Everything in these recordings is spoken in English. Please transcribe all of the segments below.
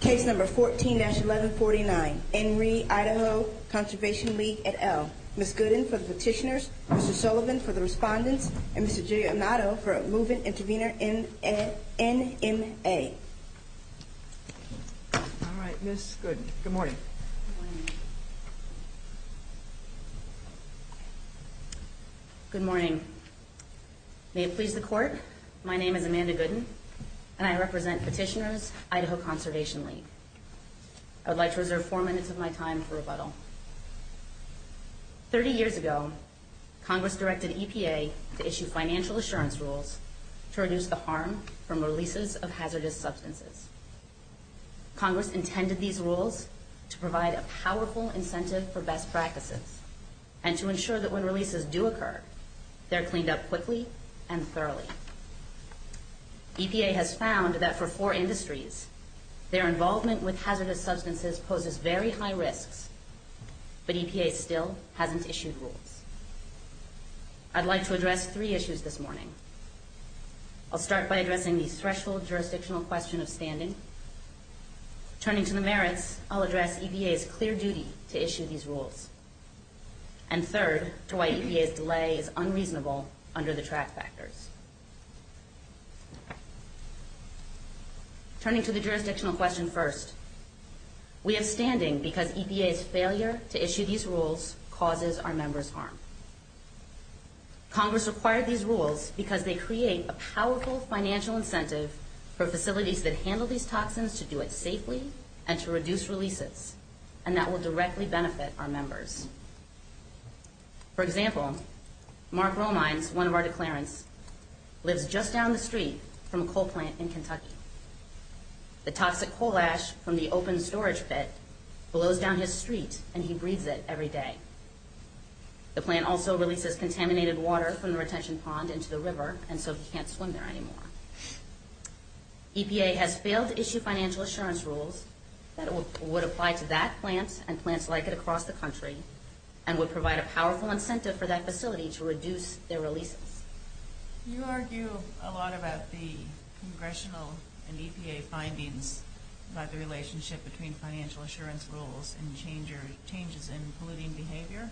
Case number 14-1149, Henry Idaho Conservation League, et al. Ms. Gooden for the Petitioners, Mr. Sullivan for the Respondents, and Mr. Junior Amato for Movement Intervenor NMA. Alright, Ms. Gooden. Good morning. Good morning. May it please the Court, my name is Amanda Gooden, and I represent Petitioners, Idaho Conservation League. I would like to reserve four minutes of my time for rebuttal. Thirty years ago, Congress directed EPA to issue financial assurance rules to reduce the harm from releases of hazardous substances. Congress intended these rules to provide a powerful incentive for best practices, and to ensure that when releases do occur, they're cleaned up quickly and thoroughly. EPA has found that for poor industries, their involvement with hazardous substances poses very high risk, but EPA still hasn't issued rules. I'd like to address three issues this morning. I'll start by addressing the threshold jurisdictional question of standing. Turning to the merits, I'll address EPA's clear duty to issue these rules. And third, to why EPA's delay is unreasonable under the track factors. Turning to the jurisdictional question first, we have standing because EPA's failure to issue these rules causes our members harm. Congress required these rules because they create a powerful financial incentive for facilities that handle these toxins to do it safely, and to reduce releases, and that will directly benefit our members. For example, Mark Romine, one of our declarants, lives just down the street from a coal plant in Kentucky. The toxic coal ash from the open storage pit blows down his street, and he breathes it every day. The plant also releases contaminated water from the retention pond into the river, and so he can't swim there anymore. EPA has failed to issue financial assurance rules that would apply to that plant and plants like it across the country, and would provide a powerful incentive for that facility to reduce their releases. You argue a lot about the congressional and EPA findings about the relationship between financial assurance rules and changes in polluting behavior.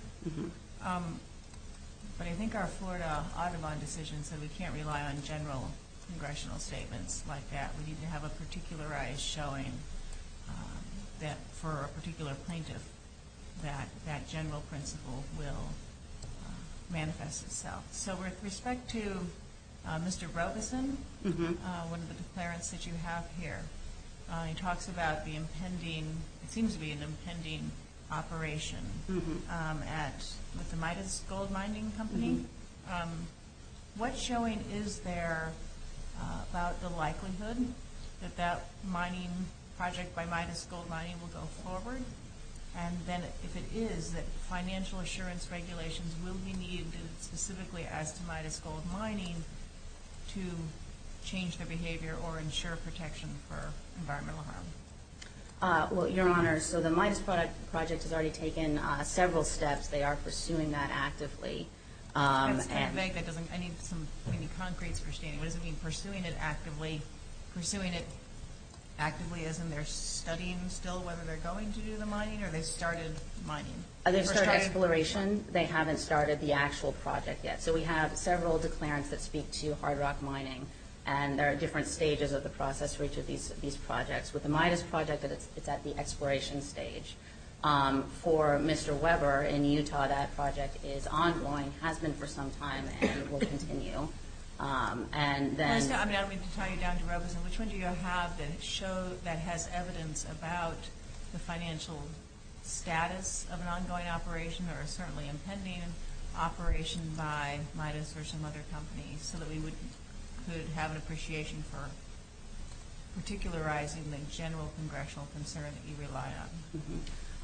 But I think our Florida Audubon decision said we can't rely on general congressional statements like that. We need to have a particularized showing for a particular plaintiff that that general principle will manifest itself. So with respect to Mr. Robeson, one of the declarants that you have here, he talks about the impending – it seems to be an impending operation at Mr. Midas Gold Mining Company. What's showing? Is there about the likelihood that that mining project by Midas Gold Mining will go forward? And then if it is, that financial assurance regulations will be needed specifically as to Midas Gold Mining to change the behavior or ensure protection for environmental harm. Well, Your Honor, so the Midas project has already taken several steps. They are pursuing that actively. From a concrete perspective, what does it mean pursuing it actively? Pursuing it actively as in they're studying still whether they're going to do the mining or they've started mining? They've started exploration. They haven't started the actual project yet. So we have several declarants that speak to hard rock mining, and there are different stages of the process for each of these projects. With the Midas project, it's at the exploration stage. For Mr. Weber in Utah, that project is ongoing, has been for some time, and it will continue. And then – I'm going to turn it down to Robin. Which one do you have that shows – that has evidence about the financial status of an ongoing operation or certainly impending operation by Midas or some other company so that we would have an appreciation for particularizing the general congressional concern that you rely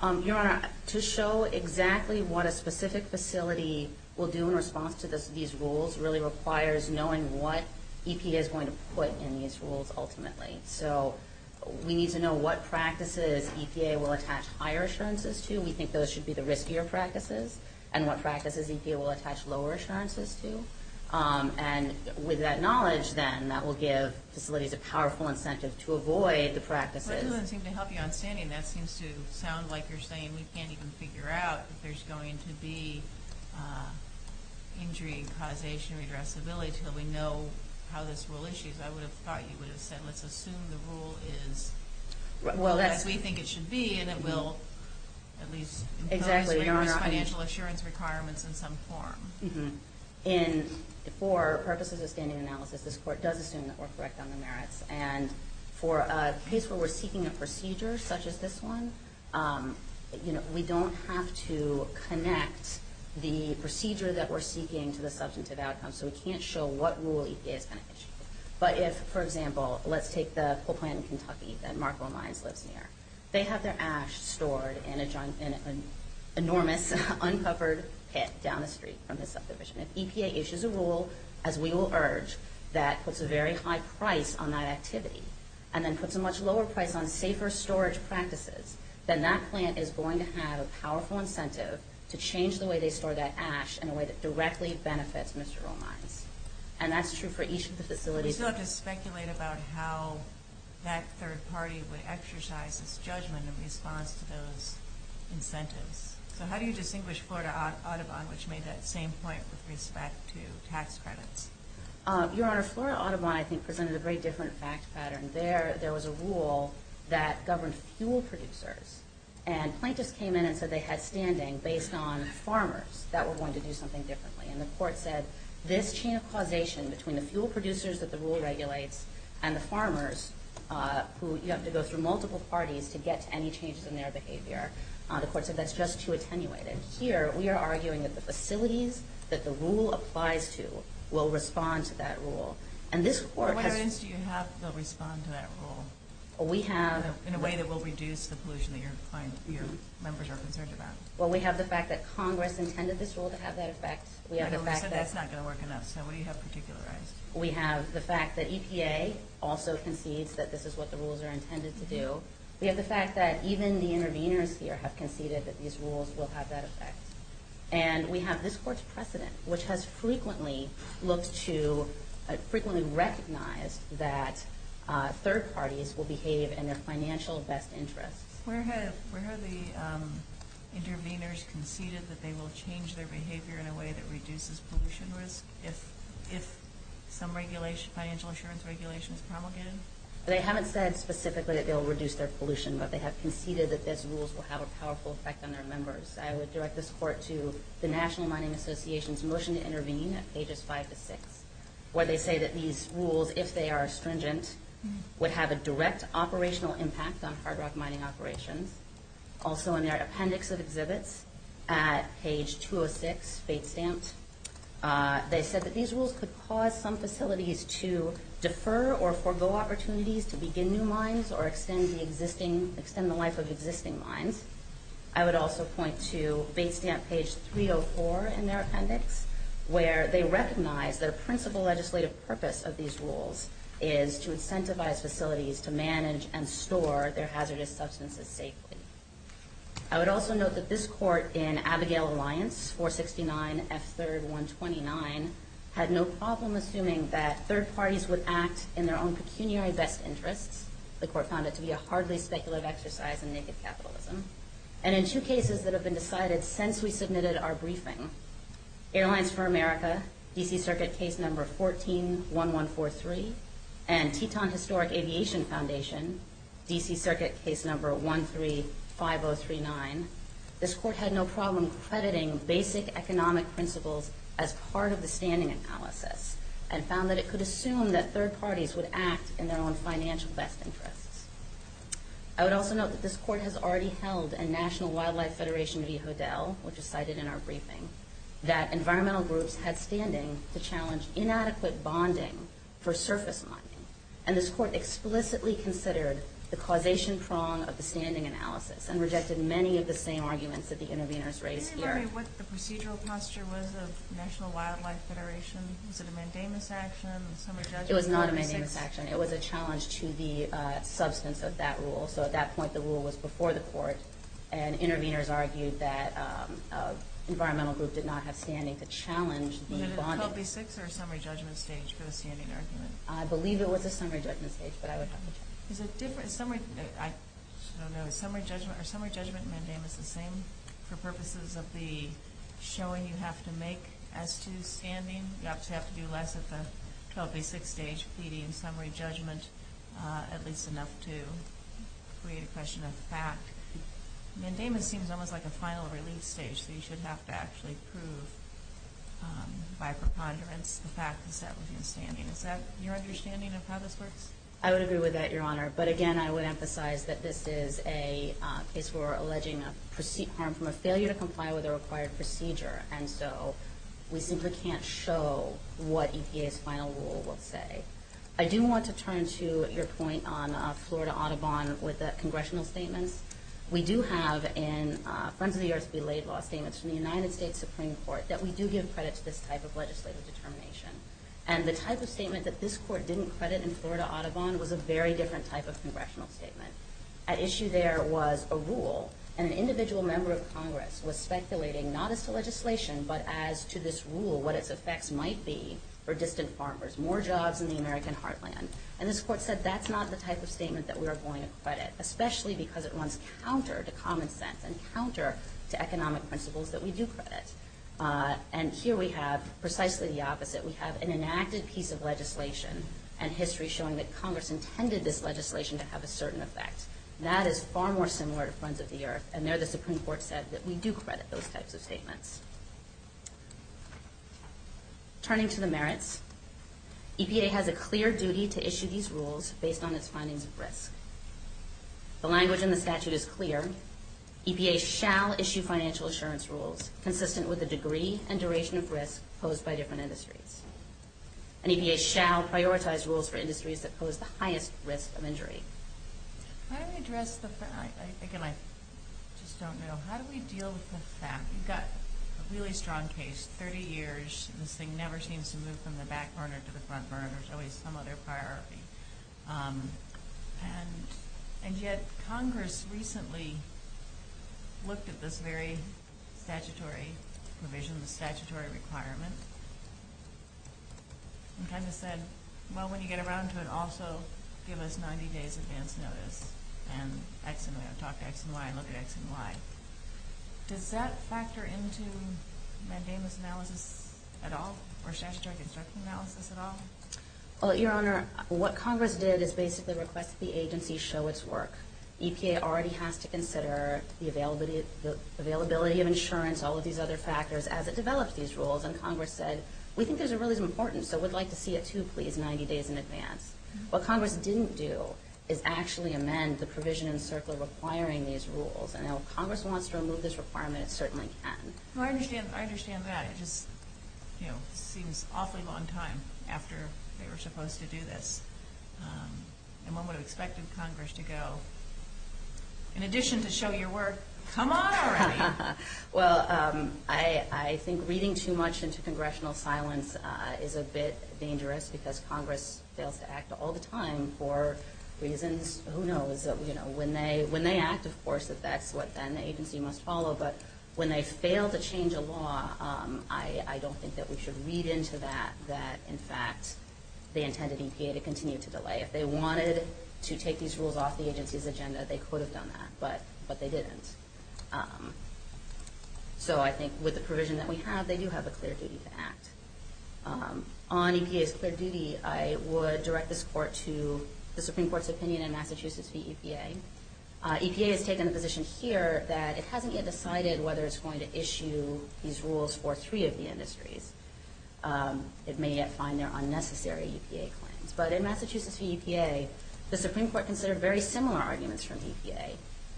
on? Your Honor, to show exactly what a specific facility will do in response to these rules really requires knowing what EPA is going to put in these rules ultimately. So we need to know what practices EPA will attach higher assurances to. We think those should be the riskier practices, and what practices EPA will attach lower assurances to. And with that knowledge, then, that will give facilities a powerful incentive to avoid the practices. I think to help you on standing, that seems to sound like you're saying we can't even figure out if there's going to be injury causation or addressability until we know how this rule issues. I would have thought you would have said let's assume the rule is as we think it should be, and it will at least – Exactly, Your Honor. Financial assurance requirements in some form. And for purposes of standing analysis, this Court does assume that we're correct on the merits. And for a case where we're seeking a procedure such as this one, we don't have to connect the procedure that we're seeking to the substantive outcome, so we can't show what rule EPA is going to issue. But if, for example, let's take the full plant in Kentucky that Marco and I are working on. They have their ash stored in an enormous, uncovered pit down the street from the subdivision. If EPA issues a rule, as we will urge, that puts a very high price on that activity and then puts a much lower price on safer storage practices, then that plant is going to have a powerful incentive to change the way they store that ash in a way that directly benefits Mr. Romine. And that's true for each of the facilities. We still have to speculate about how that third party would exercise its judgment in response to those incentives. So how do you distinguish Florida Audubon, which made that same point with respect to tax credits? Your Honor, Florida Audubon, I think, presented a very different fact pattern. There was a rule that governs fuel producers, and plaintiffs came in and said they had standing based on farmers that were going to do something differently. And the court said this chain of causation between the fuel producers that the rule regulates and the farmers who have to go through multiple parties to get any changes in their behavior, the court said that's just too attenuated. Here, we are arguing that the facilities that the rule applies to will respond to that rule. And this court... Wherein do you have to respond to that rule? We have... In a way that will reduce the pollution that your members are concerned about. Well, we have the fact that Congress intended this rule to have that effect. We have the fact that... But that's not going to work enough. So what do you have in particular? We have the fact that EPA also concedes that this is what the rules are intended to do. We have the fact that even the interveners here have conceded that these rules will have that effect. And we have this court's precedent, which has frequently looked to... frequently recognized that third parties will behave in their financial best interest. Where have the interveners conceded that they will change their behavior in a way that reduces pollution risk if some financial insurance regulation is promulgated? They haven't said specifically that they'll reduce their pollution, but they have conceded that these rules will have a powerful effect on their members. I would direct this court to the National Mining Association's motion to intervene at pages 5 to 6, where they say that these rules, if they are stringent, would have a direct operational impact on hard rock mining operations. Also in their appendix of exhibits at page 206, they said that these rules could cause some facilities to defer or forego opportunities to begin new mines or extend the life of existing mines. I would also point to page 304 in their appendix, where they recognize that a principal legislative purpose of these rules is to incentivize facilities to manage and store their hazardous substances safely. I would also note that this court in Abigail Alliance, 469F3-129, had no problem assuming that third parties would act in their own pecuniary best interest. The court found it to be a hardly speculative exercise in naked capitalism. And in two cases that have been decided since we submitted our briefing, Airlines for America, D.C. Circuit Case No. 14-1143, and Teton Historic Aviation Foundation, D.C. Circuit Case No. 13-5039, this court had no problem crediting basic economic principles as part of the standing analysis and found that it could assume that third parties would act in their own financial best interest. I would also note that this court has already held, and National Wildlife Federation v. Hoodell, which is cited in our briefing, that environmental groups had standing to challenge inadequate bonding for surface mining. And this court explicitly considered the causation prong of the standing analysis and rejected many of the same arguments that the interveners raised here. Can you tell me what the procedural posture was of National Wildlife Federation? Was it a mandamus action? It was not a mandamus action. It was a challenge to the substance of that rule. So at that point, the rule was before the court, and interveners argued that environmental groups did not have standing to challenge the bonding. I believe it was a summary judgment stage. So a basic stage preceding summary judgment, at least enough to create a question of fact. Mandamus seems almost like a final release stage, but you should have to actually prove by preponderance the fact that that was your standing. Is that your understanding of how this works? I would agree with that, Your Honor. But again, I would emphasize that this is a case where we're alleging a proceed form from a failure to comply with a required procedure. And so we simply can't show what EPA's final rule would say. I do want to turn to your point on Florida Audubon with a congressional statement. We do have in Friends of the Earth Belayed Law statements in the United States Supreme Court that we do give credit to this type of legislative determination. And the type of statement that this court didn't credit in Florida Audubon was a very different type of congressional statement. At issue there was a rule, and an individual member of Congress was speculating, not as to legislation, but as to this rule, what its effect might be for distant farmers. More jobs in the American heartland. And this court said that's not the type of statement that we are going to credit, especially because it runs counter to common sense and counter to economic principles that we do credit. And here we have precisely the opposite. We have an inactive piece of legislation and history showing that Congress intended this legislation to have a certain effect. That is far more similar to Friends of the Earth, and there the Supreme Court said that we do credit those types of statements. Turning to the merits, EPA has a clear duty to issue these rules based on its findings of risk. The language in the statute is clear. EPA shall issue financial assurance rules consistent with the degree and duration of risk posed by different industries. And EPA shall prioritize rules for industries that pose the highest risk of injury. How do we address the fact, I think, and I just don't know, how do we deal with this fact? We've got a really strong case, 30 years, and this thing never seems to move from the back burner to the front burner. There's always some other priority. And yet Congress recently looked at this very statutory provision, statutory requirement, and kind of said, well, when you get around to it, also give us 90 days' advance notice. And I can talk to X and Y and look at X and Y. Does that factor into my damages analysis at all, or statutory construction analysis at all? Your Honor, what Congress did is basically request the agency show its work. EPA already has to consider the availability of insurance, all of these other factors, as it develops these rules, and Congress said, we think those are really important, so we'd like to see it too, please, 90 days in advance. What Congress didn't do is actually amend the provision in the circle requiring these rules. Now, if Congress wants to remove this requirement, it certainly can. I understand that. It seems an awfully long time after they were supposed to do this. And one would expect Congress to go, in addition to show your work, come on around. Well, I think reading too much into congressional silence is a bit dangerous, because Congress fails to act all the time for reasons, who knows? When they act, of course, that's what then the agency must follow, but when they fail to change a law, I don't think that we should read into that, that in fact they intended EPA to continue to delay. If they wanted to take these rules off the agency's agenda, they could have done that, but they didn't. So I think with the provision that we have, they do have a clear duty to act. On EPA's clear duty, I would direct this court to the Supreme Court's opinion in Massachusetts v. EPA. EPA has taken a position here that it hasn't yet decided whether it's going to issue these rules for three of the industries. It may yet find they're unnecessary EPA claims. But in Massachusetts v. EPA, the Supreme Court considered very similar arguments from EPA.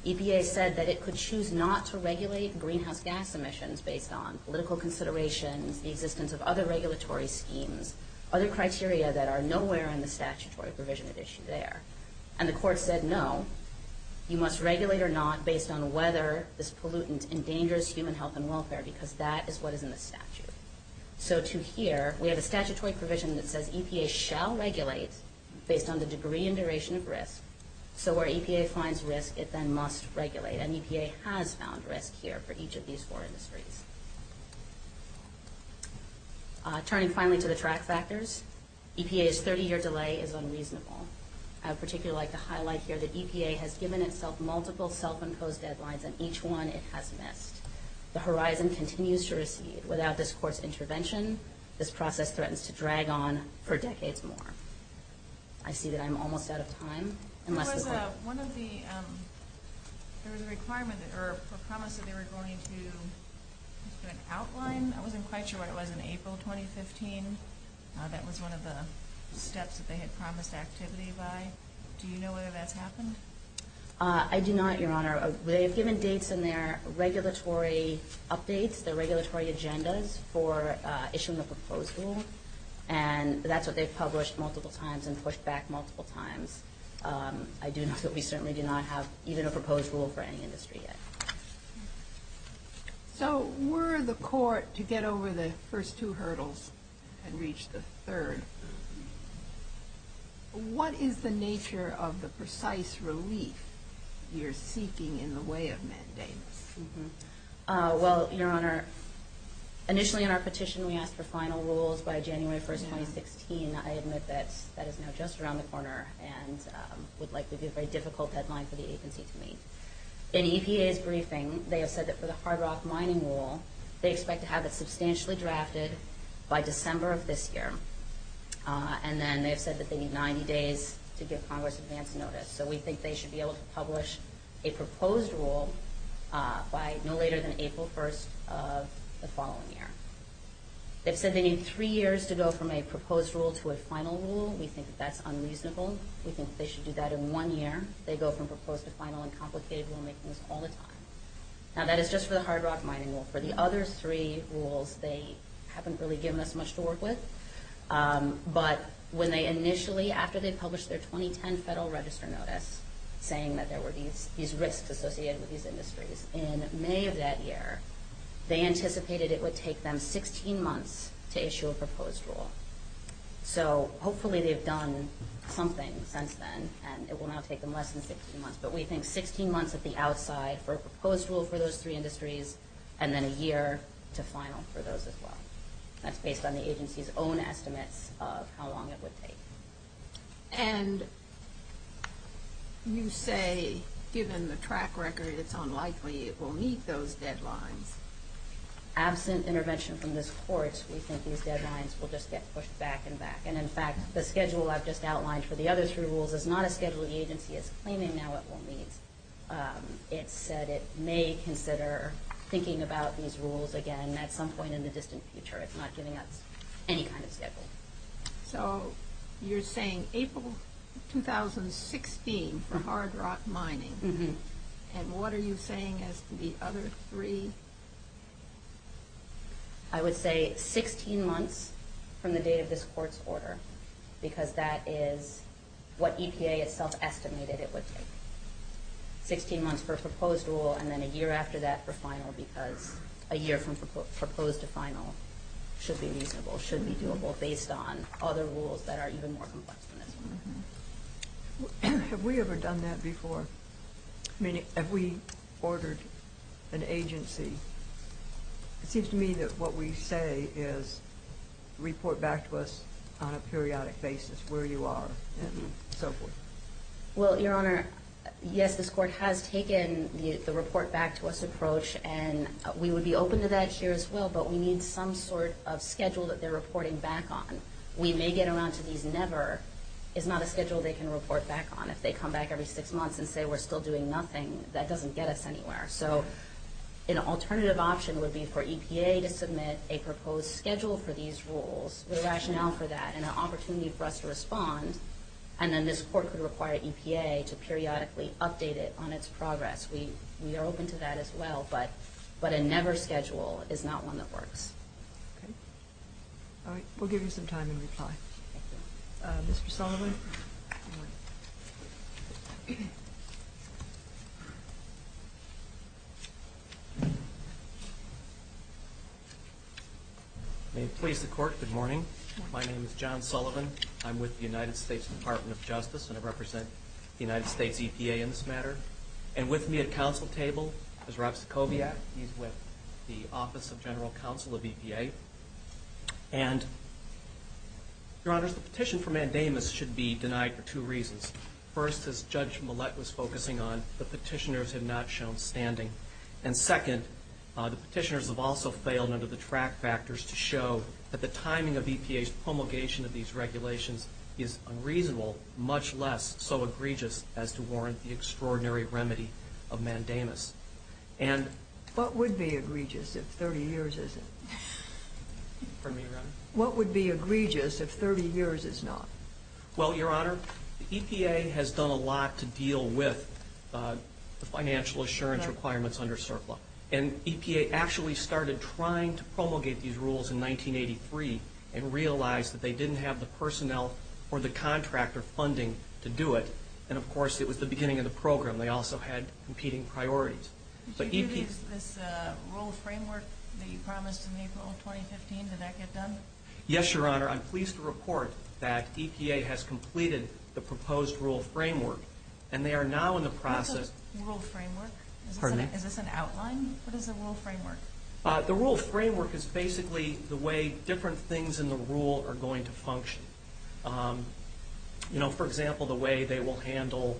EPA said that it could choose not to regulate greenhouse gas emissions based on political consideration, the existence of other regulatory schemes, other criteria that are nowhere in the statutory provision that issue there. And the court said no, you must regulate or not based on whether this pollutant endangers human health and welfare, because that is what is in the statute. So to here, we have a statutory provision that says EPA shall regulate based on the degree and duration of risk. So where EPA finds risk, it then must regulate. And EPA has found risk here for each of these four industries. Turning finally to the track factors, EPA's 30-year delay is unreasonable. I would particularly like to highlight here that EPA has given itself multiple self-imposed deadlines, and each one it has missed. The horizon continues to recede. Without this court's intervention, this process threatens to drag on for a decade more. I see that I'm almost out of time. One of the requirements or promises they were going to put an outline, I wasn't quite sure when it was, in April 2015. That was one of the steps that they had promised activity by. I do not, Your Honor. They have given dates in their regulatory updates, their regulatory agendas, for issuing the proposed rule, and that's what they've published multiple times and pushed back multiple times. I do know that we certainly do not have even a proposed rule for any industry yet. So were the court to get over the first two hurdles and reach the third, what is the nature of the precise relief you're seeking in the way of mandates? Well, Your Honor, initially in our petition we asked for final rules by January 1, 2016. I admit that that is now just around the corner, and we'd like to do very difficult deadlines for the agency to meet. In EPA's briefing, they have said that for the hard rock mining rule, they expect to have it substantially drafted by December of this year. And then they said that they need 90 days to get Congress advance notice. So we think they should be able to publish a proposed rule by no later than April 1 of the following year. It says they need three years to go from a proposed rule to a final rule. We think that's unreasonable. We think they should do that in one year. They go from proposed to final and complicated rulemaking all the time. Now that is just for the hard rock mining rule. For the other three rules, they haven't really given us much to work with. But when they initially, after they published their 2010 Federal Register notice, saying that there were these risks associated with these industries, in May of that year they anticipated it would take them 16 months to issue a proposed rule. So hopefully they've done something since then, and it will not take them less than 16 months. But we think 16 months at the outside for a proposed rule for those three industries and then a year to final for those as well. That's based on the agency's own estimate of how long it would take. And you say, given the track record, it's unlikely it will meet those deadlines. Absent intervention from this Court, we think these deadlines will just get pushed back and back. And, in fact, the schedule I've just outlined for the other three rules is not a schedule the agency is claiming now it will meet. It said it may consider thinking about these rules again at some point in the distant future. It's not giving us any kind of schedule. So you're saying April 2016 for hard rock mining. And what are you saying as to the other three? I would say 16 months from the date of this Court's order, because that is what EPA itself estimated it would take. 16 months for a proposed rule and then a year after that for final, because a year from proposed to final should be reasonable, should be doable based on other rules that are even more complex than this. Have we ever done that before? I mean, have we ordered an agency? It seems to me that what we say is report back to us on a periodic basis where you are and so forth. Well, Your Honor, yes, this Court has taken the report back to us approach, and we would be open to that here as well, but we need some sort of schedule that they're reporting back on. We may get around to these. But a never is not a schedule they can report back on. If they come back every six months and say we're still doing nothing, that doesn't get us anywhere. So an alternative option would be for EPA to submit a proposed schedule for these rules, the rationale for that, and an opportunity for us to respond, and then this Court could require EPA to periodically update it on its progress. We are open to that as well, but a never schedule is not one that works. All right, we'll give you some time to reply. Mr. Sullivan? May it please the Court, good morning. My name is John Sullivan. I'm with the United States Department of Justice, and I represent the United States EPA in this matter. And with me at council table is Rex Kobiak. He's with the Office of General Counsel of EPA. And, Your Honor, the petition for mandamus should be denied for two reasons. First, as Judge Millett was focusing on, the petitioners have not shown standing. And second, the petitioners have also failed under the track factors to show that the timing of EPA's promulgation of these regulations is unreasonable, much less so egregious as to warrant the extraordinary remedy of mandamus. What would be egregious if 30 years is not? Well, Your Honor, EPA has done a lot to deal with financial assurance requirements under CERPA. And EPA actually started trying to promulgate these rules in 1983 and realized that they didn't have the personnel or the contractor funding to do it. And, of course, it was the beginning of the program. They also had competing priorities. Did you do the rules framework that you promised in April of 2015? Did that get done? Yes, Your Honor. I'm pleased to report that EPA has completed the proposed rules framework. And they are now in the process... What's a rules framework? Pardon me? Is this an outline? What is a rules framework? The rules framework is basically the way different things in the rule are going to function. You know, for example, the way they will handle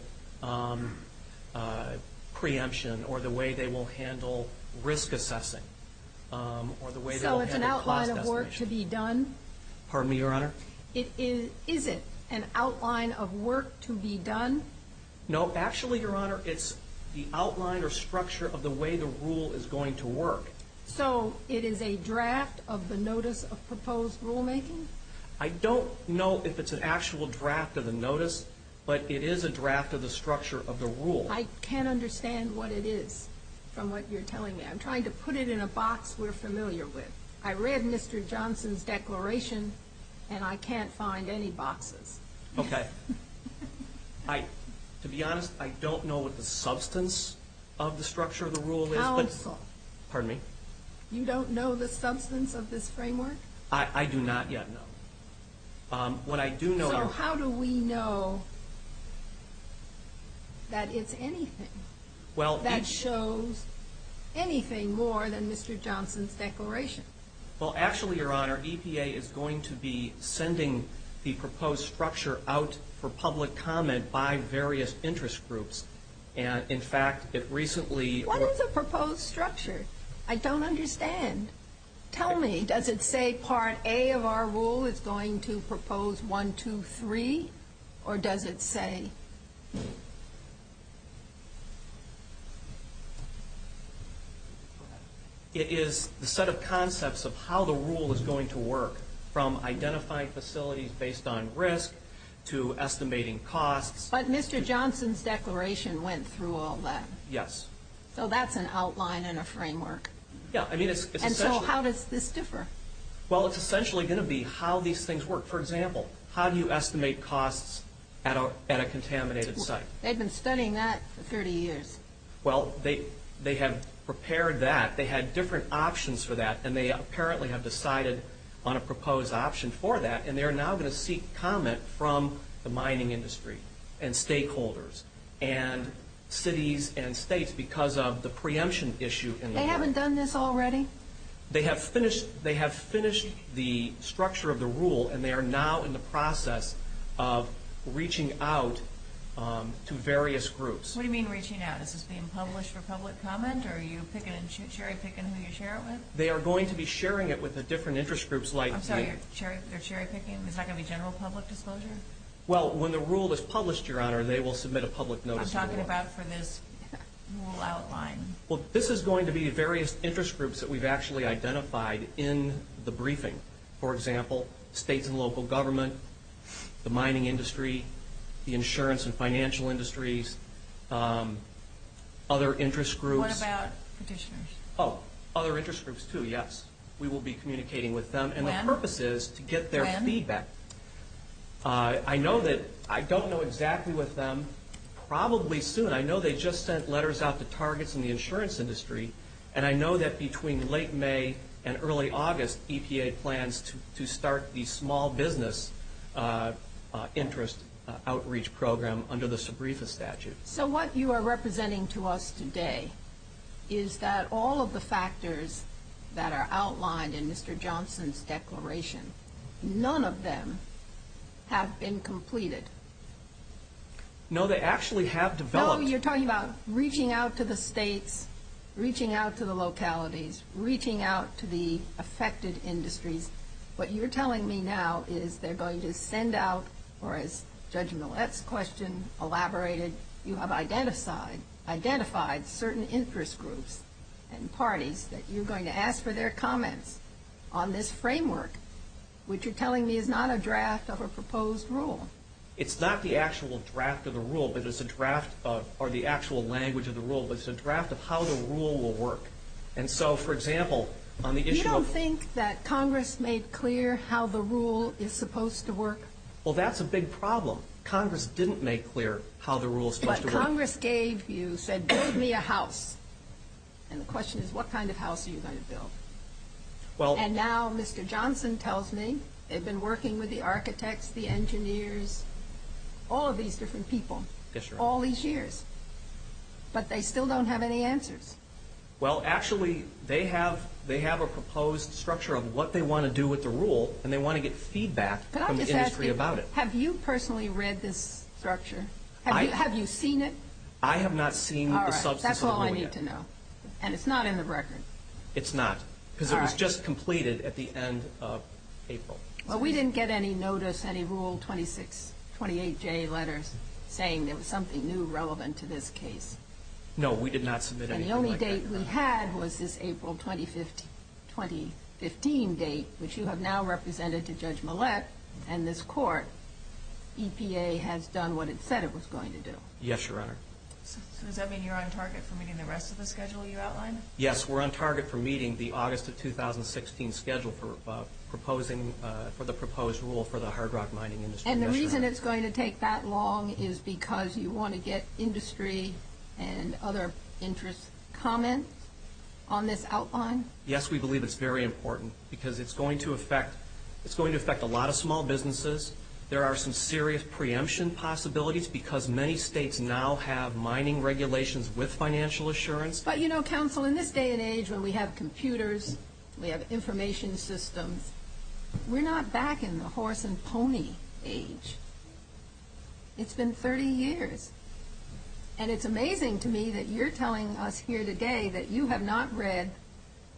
preemption or the way they will handle risk assessing. So it's an outline of work to be done? Pardon me, Your Honor? No, actually, Your Honor, it's the outline or structure of the way the rule is going to work. So it is a draft of the notice of proposed rulemaking? I don't know if it's an actual draft of the notice, but it is a draft of the structure of the rule. I can't understand what it is from what you're telling me. I'm trying to put it in a box we're familiar with. I read Mr. Johnson's declaration, and I can't find any boxes. Okay. To be honest, I don't know what the substance of the structure of the rule is. How it's thought. Pardon me? You don't know the substance of this framework? I do not yet, no. What I do know is... Well, how do we know that it's anything? Well... That shows anything more than Mr. Johnson's declaration. Well, actually, Your Honor, EPA is going to be sending the proposed structure out for public comment by various interest groups. And, in fact, it recently... What is a proposed structure? I don't understand. Tell me, does it say Part A of our rule is going to propose 123, or does it say... It is a set of concepts of how the rule is going to work, from identifying facilities based on risk to estimating costs. But Mr. Johnson's declaration went through all that. Yes. So that's an outline and a framework. Yeah. And so how does this differ? Well, it's essentially going to be how these things work. For example, how do you estimate costs at a contaminated site? They've been studying that for 30 years. Well, they have prepared that. They had different options for that, and they apparently have decided on a proposed option for that. And they are now going to seek comment from the mining industry and stakeholders and cities and states because of the preemption issue. They haven't done this already? They have finished the structure of the rule, and they are now in the process of reaching out to various groups. What do you mean reaching out? Is this being published for public comment, or are you cherry-picking who you share it with? They are going to be sharing it with the different interest groups like... I'm sorry, they're cherry-picking? Is that going to be general public disclosure? Well, when the rule is published, Your Honor, they will submit a public notice. I'm talking about for this rule outline. Well, this is going to be the various interest groups that we've actually identified in the briefing. For example, state and local government, the mining industry, the insurance and financial industries, other interest groups. What about petitioners? Oh, other interest groups, too, yes. We will be communicating with them. And the purpose is to get their feedback. When? I don't know exactly with them. Probably soon. I know they just sent letters out to targets in the insurance industry, and I know that between late May and early August, EPA plans to start the small business interest outreach program under the SBREFA statute. So what you are representing to us today is that all of the factors that are outlined in Mr. Johnson's declaration, none of them have been completed. No, they actually have developed. Oh, you're talking about reaching out to the states, reaching out to the localities, reaching out to the affected industries. What you're telling me now is they're going to send out, or as Judge Millett's question elaborated, you have identified certain interest groups and parties that you're going to ask for their comments on this framework, which you're telling me is not a draft of a proposed rule. It's not the actual draft of the rule, or the actual language of the rule, but it's a draft of how the rule will work. And so, for example, on the issue of... You don't think that Congress made clear how the rule is supposed to work? Well, that's a big problem. Congress didn't make clear how the rule is supposed to work. But Congress gave you, said, build me a house. And the question is, what kind of house are you going to build? And now Mr. Johnson tells me they've been working with the architects, the engineers, all of these different people, all these years, but they still don't have any answers. Well, actually, they have a proposed structure of what they want to do with the rule, and they want to get feedback from the industry about it. Can I just ask you, have you personally read this structure? Have you seen it? I have not seen it. All right, that's all I need to know. And it's not in the record? It's not, because it was just completed at the end of April. Well, we didn't get any notice, any Rule 28J letters saying there was something new relevant to this case. No, we did not submit anything like that. And the only date we had was this April 2015 date, which you have now represented to Judge Millett, and this court, EPA, has done what it said it was going to do. Yes, Your Honor. Does that mean you're on target for meeting the rest of the schedule you outlined? Yes, we're on target for meeting the August of 2016 schedule for the proposed rule for the hard rock mining industry. And the reason it's going to take that long is because you want to get industry and other interest comments on this outline? Yes, we believe it's very important, because it's going to affect a lot of small businesses. There are some serious preemption possibilities, because many states now have mining regulations with financial assurance. But, you know, counsel, in this day and age when we have computers, we have information systems, we're not back in the horse and pony age. It's been 30 years. And it's amazing to me that you're telling us here today that you have not read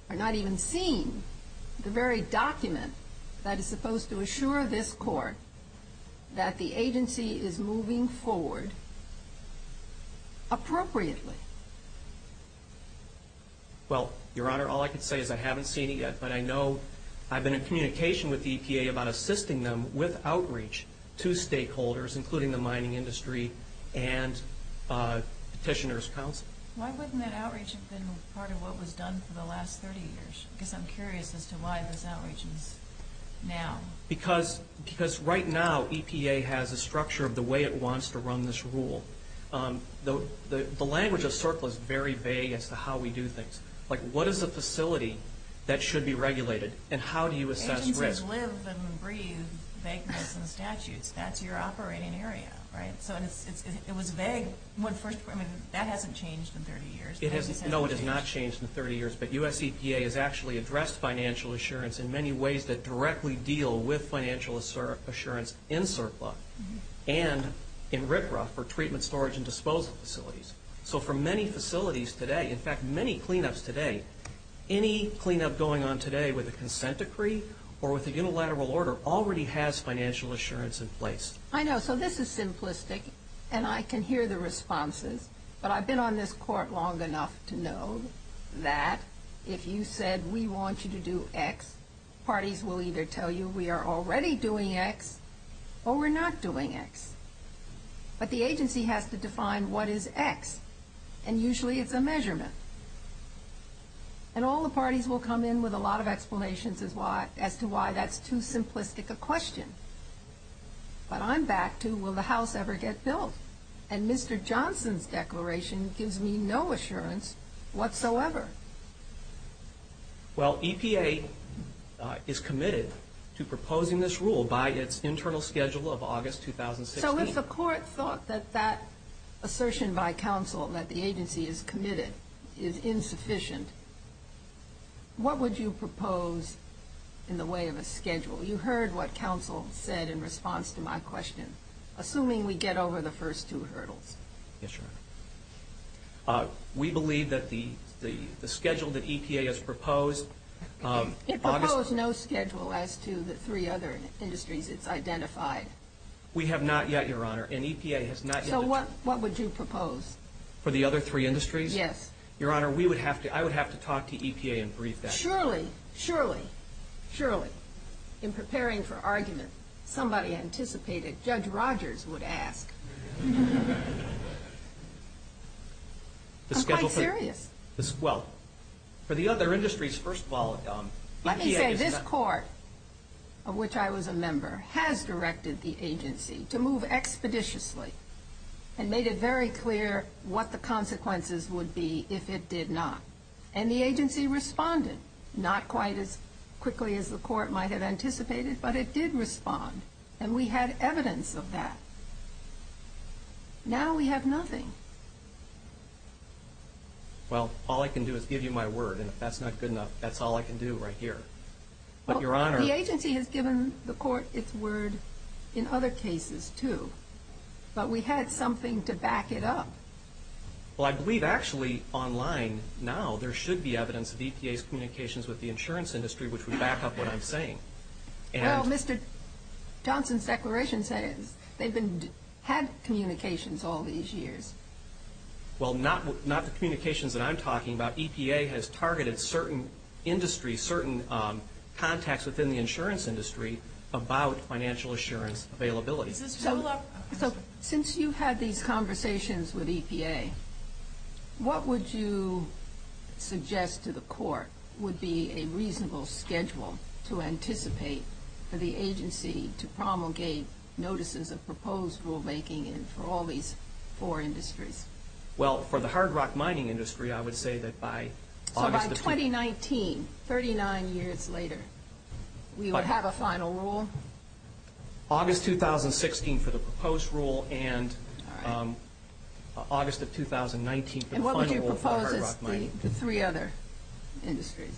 or not even seen the very document that is supposed to assure this court that the agency is moving forward appropriately. Well, Your Honor, all I can say is I haven't seen it yet, but I know I've been in communication with the EPA about assisting them with outreach to stakeholders, including the mining industry and Petitioner's Council. Why hasn't that outreach been part of what was done for the last 30 years? Because I'm curious as to why it's not reaching now. Because right now EPA has the structure of the way it wants to run this rule. The language of CERCLA is very vague as to how we do things. Like what is a facility that should be regulated, and how do you assess risk? Agencies live and breathe banknotes and statutes. That's your operating area, right? So it was vague. I mean, that hasn't changed in 30 years. No, it has not changed in 30 years. But U.S. EPA has actually addressed financial assurance in many ways that directly deal with financial assurance in CERCLA and in RCRA for treatment, storage, and disposal facilities. So for many facilities today, in fact, many cleanups today, any cleanup going on today with a consent decree or with a unilateral order already has financial assurance in place. I know. So this is simplistic, and I can hear the responses. But I've been on this court long enough to know that if you said, we want you to do X, parties will either tell you we are already doing X or we're not doing X. But the agency has to define what is X, and usually it's a measurement. And all the parties will come in with a lot of explanations as to why that's too simplistic a question. But I'm back to, will the house ever get built? And Mr. Johnson's declaration gives me no assurance whatsoever. Well, EPA is committed to proposing this rule by its internal schedule of August 2016. So if the court thought that that assertion by counsel that the agency is committed is insufficient, what would you propose in the way of a schedule? You heard what counsel said in response to my question. Assuming we get over the first two hurdles. Yes, Your Honor. We believe that the schedule that EPA has proposed. It proposed no schedule as to the three other industries it's identified. We have not yet, Your Honor, and EPA has not yet. So what would you propose? For the other three industries? Yes. Your Honor, I would have to talk to EPA and brief them. Surely, surely, surely. In preparing for arguments, somebody anticipated Judge Rogers would ask. I'm quite serious. Well, for the other industries, first of all. Let me say this court, of which I was a member, has directed the agency to move expeditiously and made it very clear what the consequences would be if it did not. And the agency responded. Not quite as quickly as the court might have anticipated, but it did respond. And we had evidence of that. Now we have nothing. Well, all I can do is give you my word, and if that's not good enough, that's all I can do right here. The agency has given the court its word in other cases, too. But we had something to back it up. Well, I believe, actually, online now, there should be evidence of EPA's communications with the insurance industry, which would back up what I'm saying. Well, Mr. Johnson's declaration said they've had communications all these years. Well, not the communications that I'm talking about. EPA has targeted certain industries, certain contacts within the insurance industry about financial assurance availability. So, since you've had these conversations with EPA, what would you suggest to the court would be a reasonable schedule to anticipate for the agency to promulgate notices of proposed rulemaking for all these four industries? Well, for the hard rock mining industry, I would say that by August... By 2019, 39 years later, we would have a final rule? August 2016 for the proposed rule, and August of 2019... And what would you propose for the three other industries?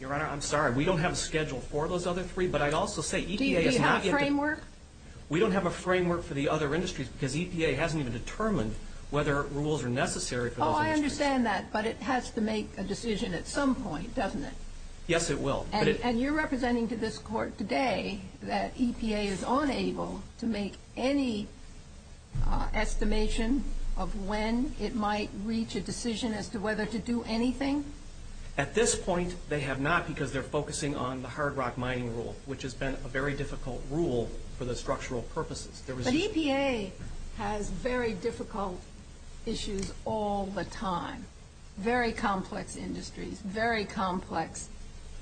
Your Honor, I'm sorry. We don't have a schedule for those other three, but I'd also say... Do you see a framework? We don't have a framework for the other industries I understand that, but it has to make a decision at some point, doesn't it? Yes, it will. And you're representing to this court today that EPA is unable to make any estimation of when it might reach a decision as to whether to do anything? At this point, they have not, because they're focusing on the hard rock mining rule, which has been a very difficult rule for the structural purposes. But EPA has very difficult issues all the time, very complex industries, very complex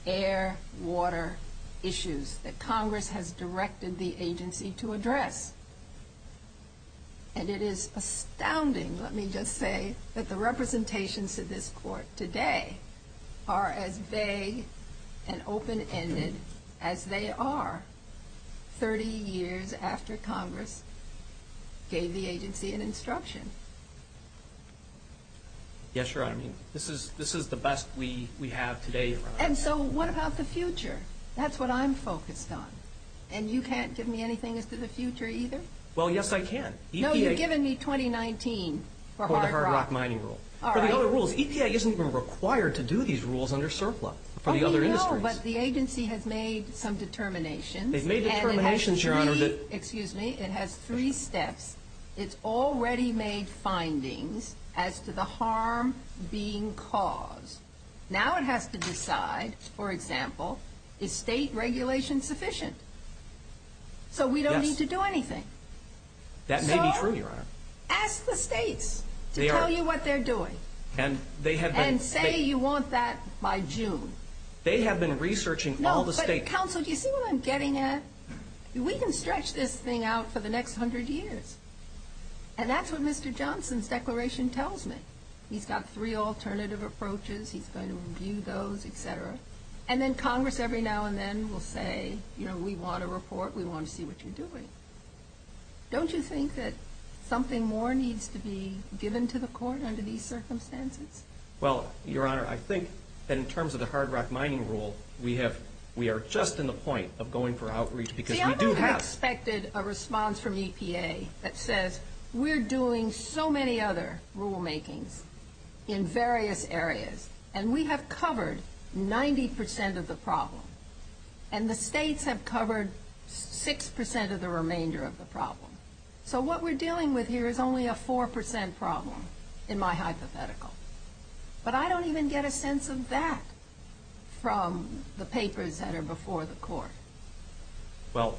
air, water issues that Congress has directed the agency to address. And it is astounding, let me just say, that the representations to this court today are as vague and open-ended as they are 30 years after Congress gave the agency an instruction. Yes, Your Honor. This is the best we have today. And so what about the future? That's what I'm focused on. And you can't give me anything as to the future either? Well, yes, I can. No, you're giving me 2019 for hard rock. For the hard rock mining rule. For the other rules. EPA isn't even required to do these rules under surplus for the other industries. Well, you know, but the agency has made some determinations. They've made determinations, Your Honor. And it has three steps. It's already made findings as to the harm being caused. Now it has to decide, for example, is state regulation sufficient? So we don't need to do anything. That may be true, Your Honor. Ask the states to tell you what they're doing. And say you want that by June. They have been researching all the states. No, but counsel, do you see what I'm getting at? We can stretch this thing out for the next 100 years. And that's what Mr. Johnson's declaration tells me. He's got three alternative approaches. He's going to review those, et cetera. And then Congress every now and then will say, you know, we want a report. We want to see what you're doing. Don't you think that something more needs to be given to the court under these circumstances? Well, Your Honor, I think that in terms of the hard rock mining rule, we are just in the point of going for outreach because we do have to. We also expected a response from EPA that says we're doing so many other rulemaking in various areas. And we have covered 90% of the problem. And the states have covered 6% of the remainder of the problem. So what we're dealing with here is only a 4% problem in my hypothetical. But I don't even get a sense of that from the papers that are before the court. Well,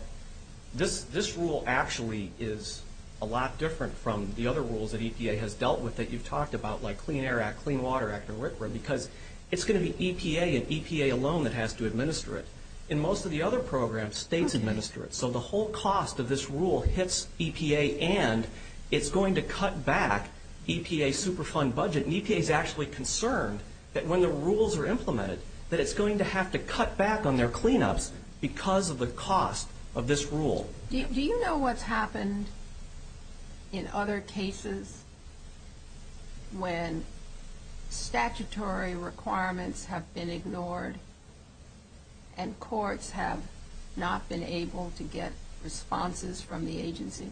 this rule actually is a lot different from the other rules that EPA has dealt with that you've talked about, like Clean Air Act, Clean Water Act, because it's going to be EPA and EPA alone that has to administer it. In most of the other programs, states administer it. So the whole cost of this rule hits EPA and it's going to cut back EPA's Superfund budget. And EPA is actually concerned that when the rules are implemented, that it's going to have to cut back on their cleanups because of the cost of this rule. Do you know what's happened in other cases when statutory requirements have been ignored and courts have not been able to get responses from the agency?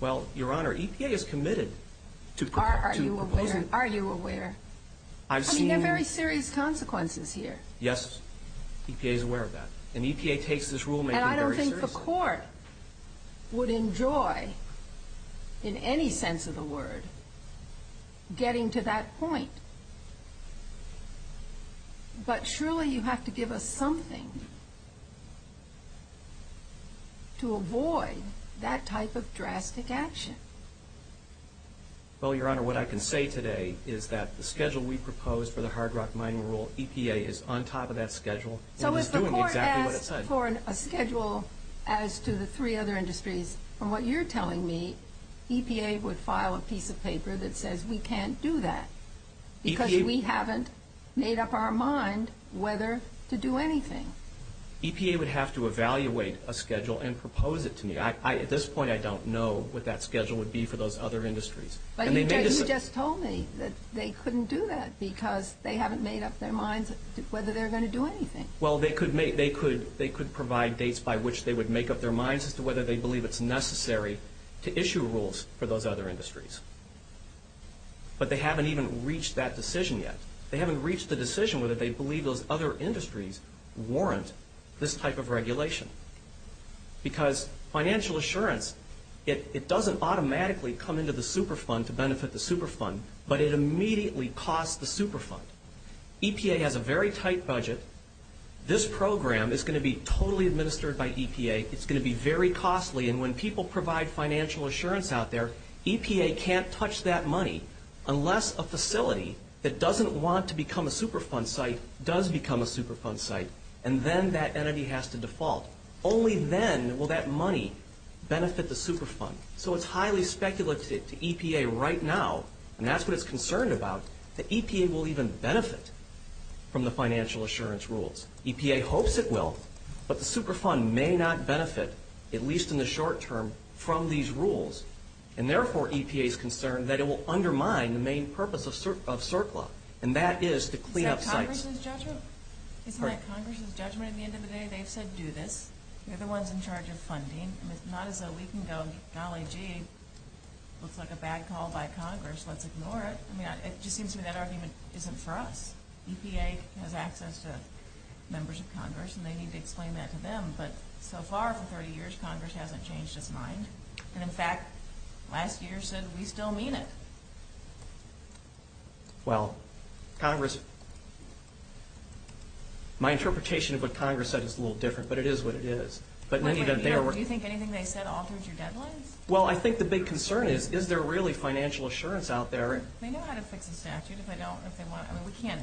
Well, Your Honor, EPA is committed to... Are you aware? I mean, there are very serious consequences here. Yes, EPA is aware of that. And I don't think the court would enjoy, in any sense of the word, getting to that point. But surely you have to give us something to avoid that type of drastic action. Well, Your Honor, what I can say today is that the schedule we proposed for the hard rock mining rule, So if the court asks for a schedule as to the three other industries, from what you're telling me, EPA would file a piece of paper that says we can't do that because we haven't made up our mind whether to do anything. EPA would have to evaluate a schedule and propose it to me. At this point, I don't know what that schedule would be for those other industries. But you just told me that they couldn't do that because they haven't made up their minds whether they're going to do anything. Well, they could provide dates by which they would make up their minds as to whether they believe it's necessary to issue rules for those other industries. But they haven't even reached that decision yet. They haven't reached the decision whether they believe those other industries warrant this type of regulation. Because financial assurance, it doesn't automatically come into the Superfund to benefit the Superfund, but it immediately costs the Superfund. EPA has a very tight budget. This program is going to be totally administered by EPA. It's going to be very costly, and when people provide financial assurance out there, EPA can't touch that money unless a facility that doesn't want to become a Superfund site does become a Superfund site, and then that entity has to default. Only then will that money benefit the Superfund. So it's highly speculative to EPA right now, and that's what it's concerned about, that EPA will even benefit from the financial assurance rules. EPA hopes it will, but the Superfund may not benefit, at least in the short term, from these rules. And therefore, EPA is concerned that it will undermine the main purpose of CERCLA, and that is to clean up sites. Isn't that Congress's judgment? Isn't that Congress's judgment at the end of the day? They said do this. You're the ones in charge of funding, and it's not as though we can go, now, gee, looks like a bad call by Congress. Let's ignore it. I mean, it just seems to me that argument isn't for us. EPA has access to members of Congress, and they need to explain that to them, but so far for 30 years, Congress hasn't changed its mind. And, in fact, last year said we still mean it. Well, Congress – my interpretation of what Congress said is a little different, but it is what it is. Do you think anything they said altered your deadline? Well, I think the big concern is, is there really financial assurance out there? They know how to fix the statute. I don't think they want – I mean, we can't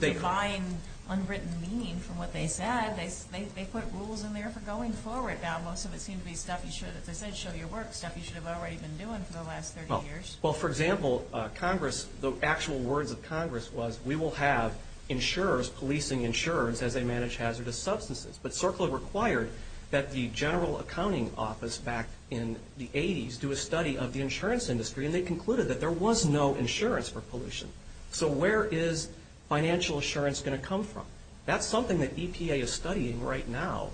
define unwritten meaning from what they said. They put rules in there for going forward. Now, most of it seems to be stuff you should – they said show your work, stuff you should have already been doing for the last 30 years. Well, for example, Congress – the actual words of Congress was, we will have insurers policing insurance as they manage hazardous substances. But CERCLA required that the General Accounting Office back in the 80s do a study of the insurance industry, and they concluded that there was no insurance for pollution. So where is financial assurance going to come from? That's something that EPA is studying right now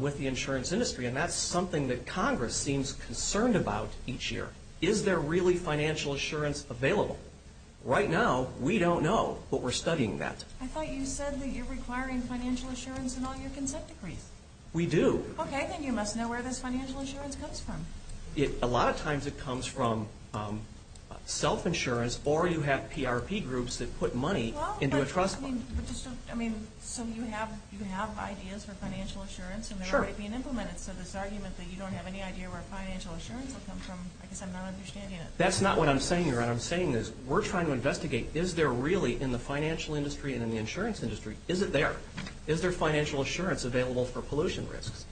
with the insurance industry, and that's something that Congress seems concerned about each year. Is there really financial assurance available? Right now, we don't know, but we're studying that. I thought you said that you're requiring financial assurance in all your consent decrees. We do. Okay, and you must know where this financial assurance comes from. A lot of times it comes from self-insurance, or you have PRP groups that put money into a trust fund. Well, but, I mean, so you have ideas for financial assurance, and they're already being implemented. So this argument that you don't have any idea where financial assurance will come from, I guess I'm not understanding it. That's not what I'm saying here. What I'm saying is we're trying to investigate, is there really in the financial industry and in the insurance industry, is it there? Is there financial assurance available for pollution risks?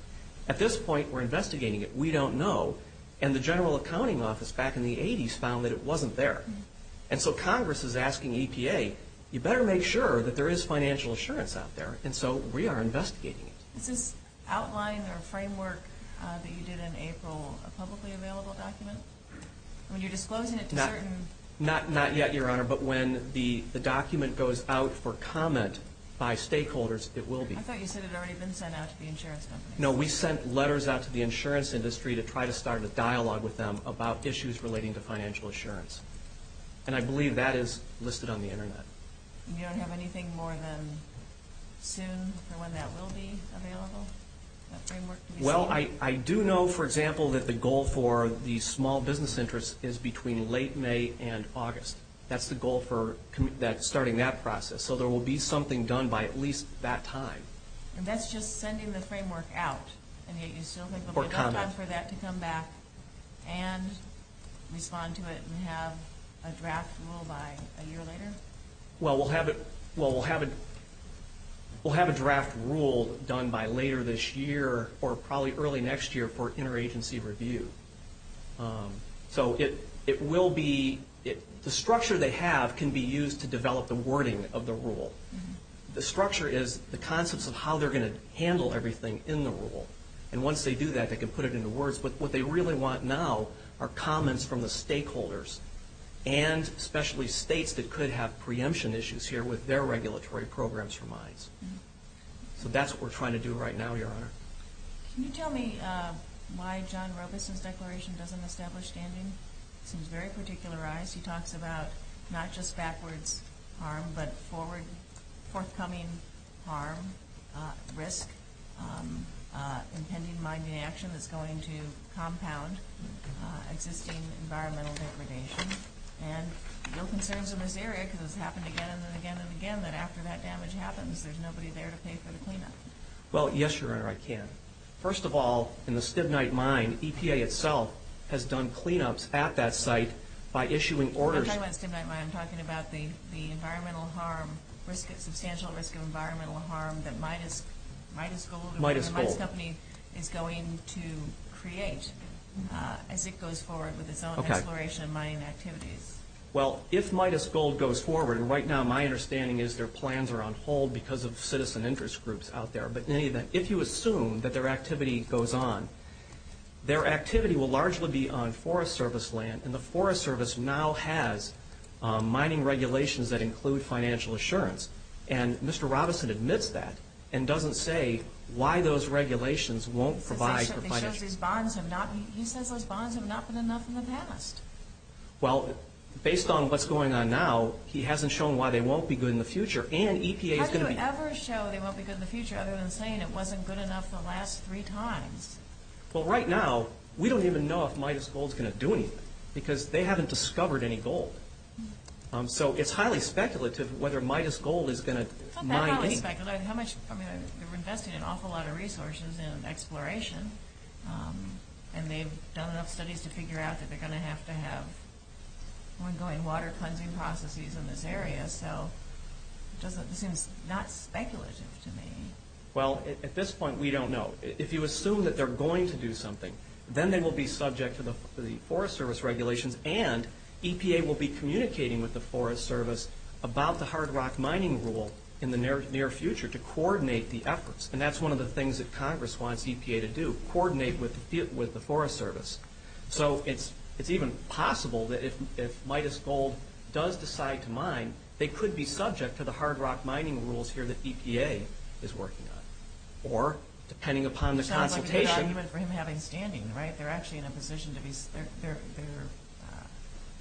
At this point, we're investigating it. We don't know. And the General Accounting Office back in the 80s found that it wasn't there. And so Congress is asking EPA, you better make sure that there is financial assurance out there. And so we are investigating it. Is this outline or framework that you did in April a publicly available document? When you're disclosing it to everyone. Not yet, Your Honor. But when the document goes out for comment by stakeholders, it will be. I thought you said it had already been sent out to the insurance company. No, we sent letters out to the insurance industry to try to start a dialogue with them about issues relating to financial assurance. And I believe that is listed on the Internet. You don't have anything more than soon for when that will be available? Well, I do know, for example, that the goal for the small business interest is between late May and August. That's the goal for starting that process. So there will be something done by at least that time. And that's just sending the framework out. And yet you still have time for that to come back and respond to it and have a draft rule by a year later? Well, we'll have a draft rule done by later this year or probably early next year for interagency review. So it will be the structure they have can be used to develop the wording of the rule. The structure is the concepts of how they're going to handle everything in the rule. And once they do that, they can put it into words. What they really want now are comments from the stakeholders and especially states that could have preemption issues here with their regulatory programs for mines. So that's what we're trying to do right now, Your Honor. Can you tell me why John Rutherford's declaration doesn't establish standing? It's very particularized. He talks about not just backwards harm but forthcoming harm, risk, intending mining action that's going to compound existing environmental degradation. And no concerns in this area because it's happened again and again and again that after that damage happens, there's nobody there to pay for the cleanup. Well, yes, Your Honor, I can. First of all, in the Stibnite mine, EPA itself has done cleanups at that site by issuing orders. When you talk about the Stibnite mine, I'm talking about the environmental harm, substantial risk of environmental harm that Midas Gold is going to create as it goes forward with its own declaration of mining activities. Well, if Midas Gold goes forward, right now my understanding is their plans are on hold because of citizen interest groups out there. But in any event, if you assume that their activity goes on, their activity will largely be on Forest Service land, and the Forest Service now has mining regulations that include financial assurance. And Mr. Robinson admits that and doesn't say why those regulations won't provide for financial assurance. He said those bonds have not been enough in the past. Well, based on what's going on now, he hasn't shown why they won't be good in the future. How do you ever show they won't be good in the future other than saying it wasn't good enough the last three times? Well, right now, we don't even know if Midas Gold is going to do anything because they haven't discovered any gold. So it's highly speculative whether Midas Gold is going to mine in. How speculative? I mean, we're investing an awful lot of resources in exploration, and they've done enough studies to figure out that they're going to have to have ongoing water cleansing processes in this area. So it seems not speculative to me. Well, at this point, we don't know. If you assume that they're going to do something, then they will be subject to the Forest Service regulations and EPA will be communicating with the Forest Service about the hard rock mining rule in the near future to coordinate the efforts. And that's one of the things that Congress wants EPA to do, coordinate with the Forest Service. So it's even possible that if Midas Gold does decide to mine, they could be subject to the hard rock mining rules here that EPA is working on. Or, depending upon the consultation... So that's why you have them standing, right? They're actually in a position to be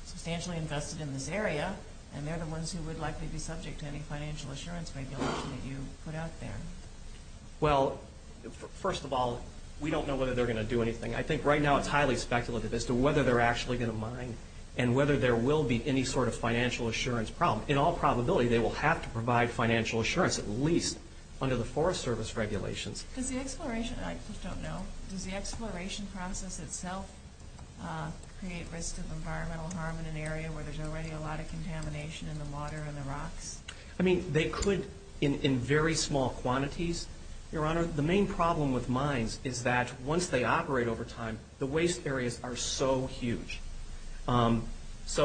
substantially invested in this area, and they're the ones who would likely be subject to any financial assurance regulations that you put out there. Well, first of all, we don't know whether they're going to do anything. I think right now it's highly speculative as to whether they're actually going to mine and whether there will be any sort of financial assurance problem. In all probability, they will have to provide financial assurance, at least under the Forest Service regulations. I just don't know. Does the exploration process itself create risk of environmental harm in an area where there's already a lot of contamination in the water and the rock? I mean, they could in very small quantities. Your Honor, the main problem with mines is that once they operate over time, the waste areas are so huge. So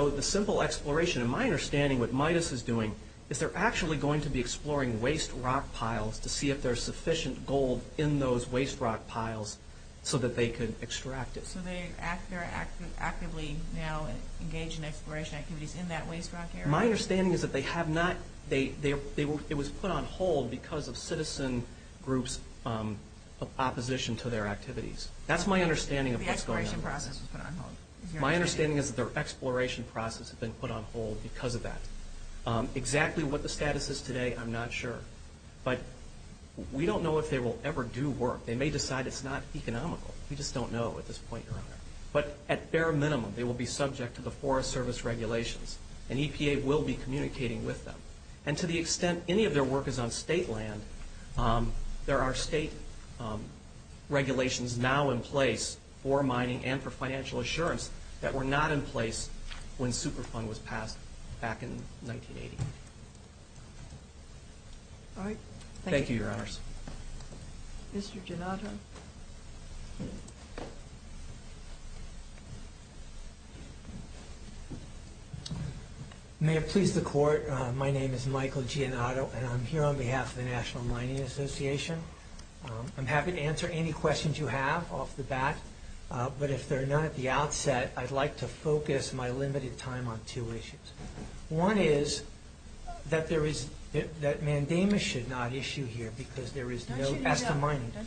it's a simple exploration. My understanding of what MIDUS is doing is they're actually going to be exploring waste rock piles to see if there's sufficient gold in those waste rock piles so that they could extract it. So they're actively now engaged in exploration activities in that waste rock area? My understanding is that it was put on hold because of citizen groups' opposition to their activities. My understanding is that their exploration process has been put on hold because of that. Exactly what the status is today, I'm not sure. But we don't know if they will ever do work. They may decide it's not economical. We just don't know at this point in time. But at bare minimum, they will be subject to the Forest Service regulations, and EPA will be communicating with them. And to the extent any of their work is on state land, there are state regulations now in place for mining and for financial assurance that were not in place when Superfund was passed back in 1980. All right. Thank you, Your Honors. Mr. Giannotto. May it please the Court, my name is Michael Giannotto, and I'm here on behalf of the National Mining Association. I'm happy to answer any questions you have off the bat. But if they're not at the outset, I'd like to focus my limited time on two issues. One is that mandamus should not issue here because there is no – Don't you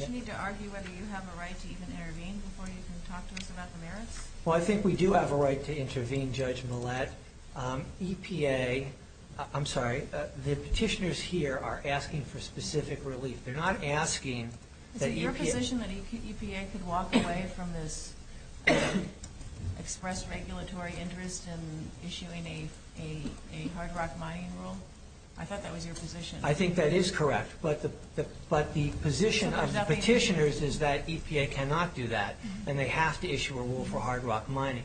need to argue whether you have a right to even intervene before you can talk to us about the merits? Well, I think we do have a right to intervene, Judge Millett. EPA – I'm sorry, the petitioners here are asking for specific relief. They're not asking that EPA – Is it your position that EPA could walk away from this express regulatory interest in issuing a hard rock mining rule? I thought that was your position. I think that is correct. But the position of the petitioners is that EPA cannot do that, and they have to issue a rule for hard rock mining.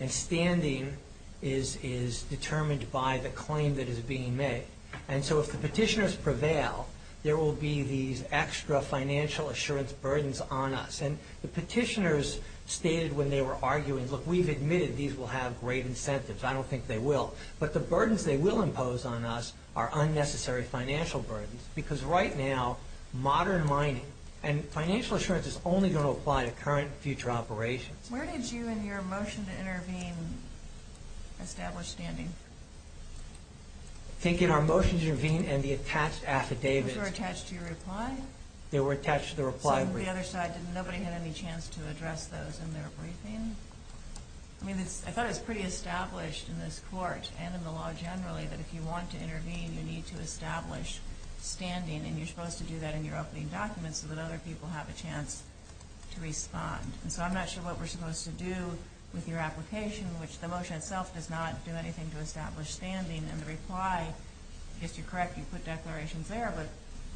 And standing is determined by the claim that is being made. And so if the petitioners prevail, there will be these extra financial assurance burdens on us. And the petitioners stated when they were arguing, look, we've admitted these will have great incentives. I don't think they will. But the burdens they will impose on us are unnecessary financial burdens because right now modern mining and financial assurance is only going to apply to current and future operations. Where did you in your motion to intervene establish standing? I think in our motion to intervene and the attached affidavit. They were attached to your reply? They were attached to the reply. On the other side, did nobody have any chance to address those in their briefing? I mean, I thought it was pretty established in this court and in the law generally that if you want to intervene, you need to establish standing, and you're supposed to do that in your opening documents so that other people have a chance to respond. And so I'm not sure what we're supposed to do with your application, which the motion itself does not do anything to establish standing in the reply. If you're correct, you put declarations there, but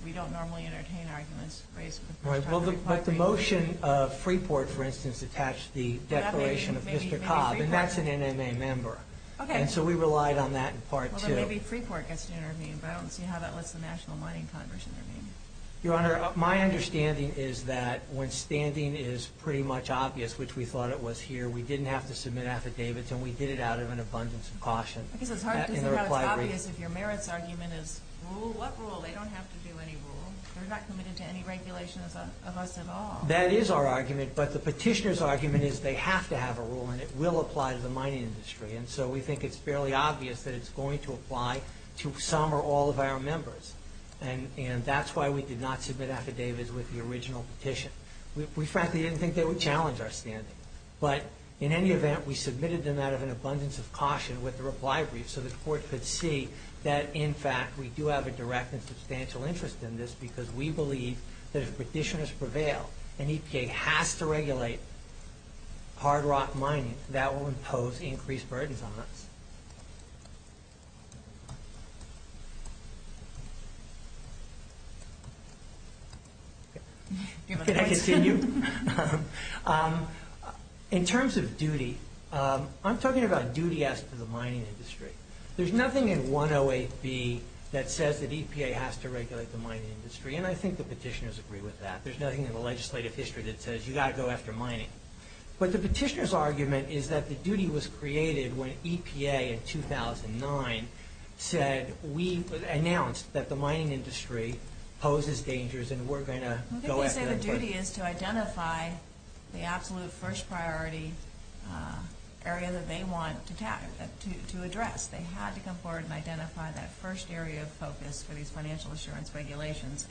we don't normally entertain arguments based on the motion. But the motion of Freeport, for instance, attached the declaration of Mr. Cobb, and that's an NMA member. Okay. And so we relied on that in Part 2. Well, then maybe Freeport gets to intervene, but I don't see how that lets the National Mining Congress intervene. Your Honor, my understanding is that when standing is pretty much obvious, which we thought it was here, we didn't have to submit affidavits, and we did it out of an abundance of caution. Because in Part 2 it's not as obvious if your merits argument is rule, what rule? They don't have to do any rule. We're not committed to any regulation of us at all. That is our argument, but the petitioner's argument is they have to have a rule, and it will apply to the mining industry. And so we think it's fairly obvious that it's going to apply to some or all of our members. And that's why we did not submit affidavits with the original petition. We frankly didn't think they would challenge our standing. But in any event, we submitted them out of an abundance of caution with a reply brief so the court could see that, in fact, we do have a direct and substantial interest in this because we believe that if petitioners prevail, and EPA has to regulate hard rock mining, that will impose increased burdens on us. In terms of duty, I'm talking about duty as to the mining industry. There's nothing in 108B that says that EPA has to regulate the mining industry, and I think the petitioners agree with that. There's nothing in the legislative history that says you've got to go after mining. But the petitioner's argument is that the duty was created when EPA, in 2009, said we announced that the mining industry poses dangers and we're going to go after them. The duty is to identify the absolute first priority area that they want to address. They had to come forward and identify that first area of focus to be financial assurance regulations.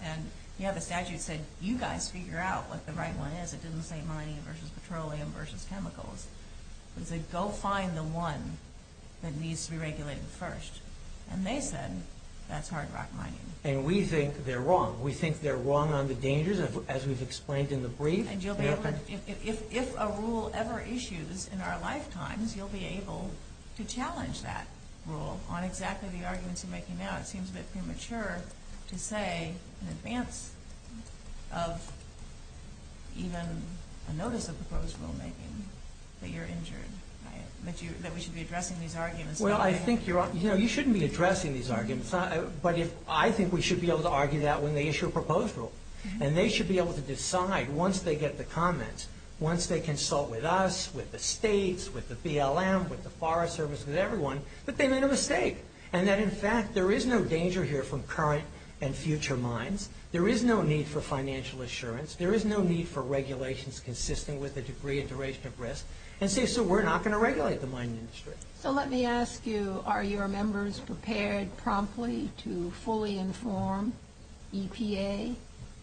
The statute says you guys figure out what the right one is. It doesn't say mining versus petroleum versus chemicals. It says go find the one that needs to be regulated first. And they said that's hard rock mining. And we think they're wrong. We think they're wrong on the dangers, as was explained in the brief. If a rule ever issues in our lifetime, you'll be able to challenge that rule on exactly the arguments you're making now. It seems a bit premature to say in advance of even a notice of proposal making that you're injured, that we should be addressing these arguments. Well, I think you're right. You know, you shouldn't be addressing these arguments. But I think we should be able to argue that when they issue a proposal. And they should be able to decide once they get the comment, once they consult with us, with the states, with the BLM, with the Forest Service, with everyone, that they made a mistake. And that, in fact, there is no danger here from current and future mines. There is no need for financial assurance. There is no need for regulations consisting with a degree of duration of risk. And say, so we're not going to regulate the mine industry. So let me ask you, are your members prepared promptly to fully inform EPA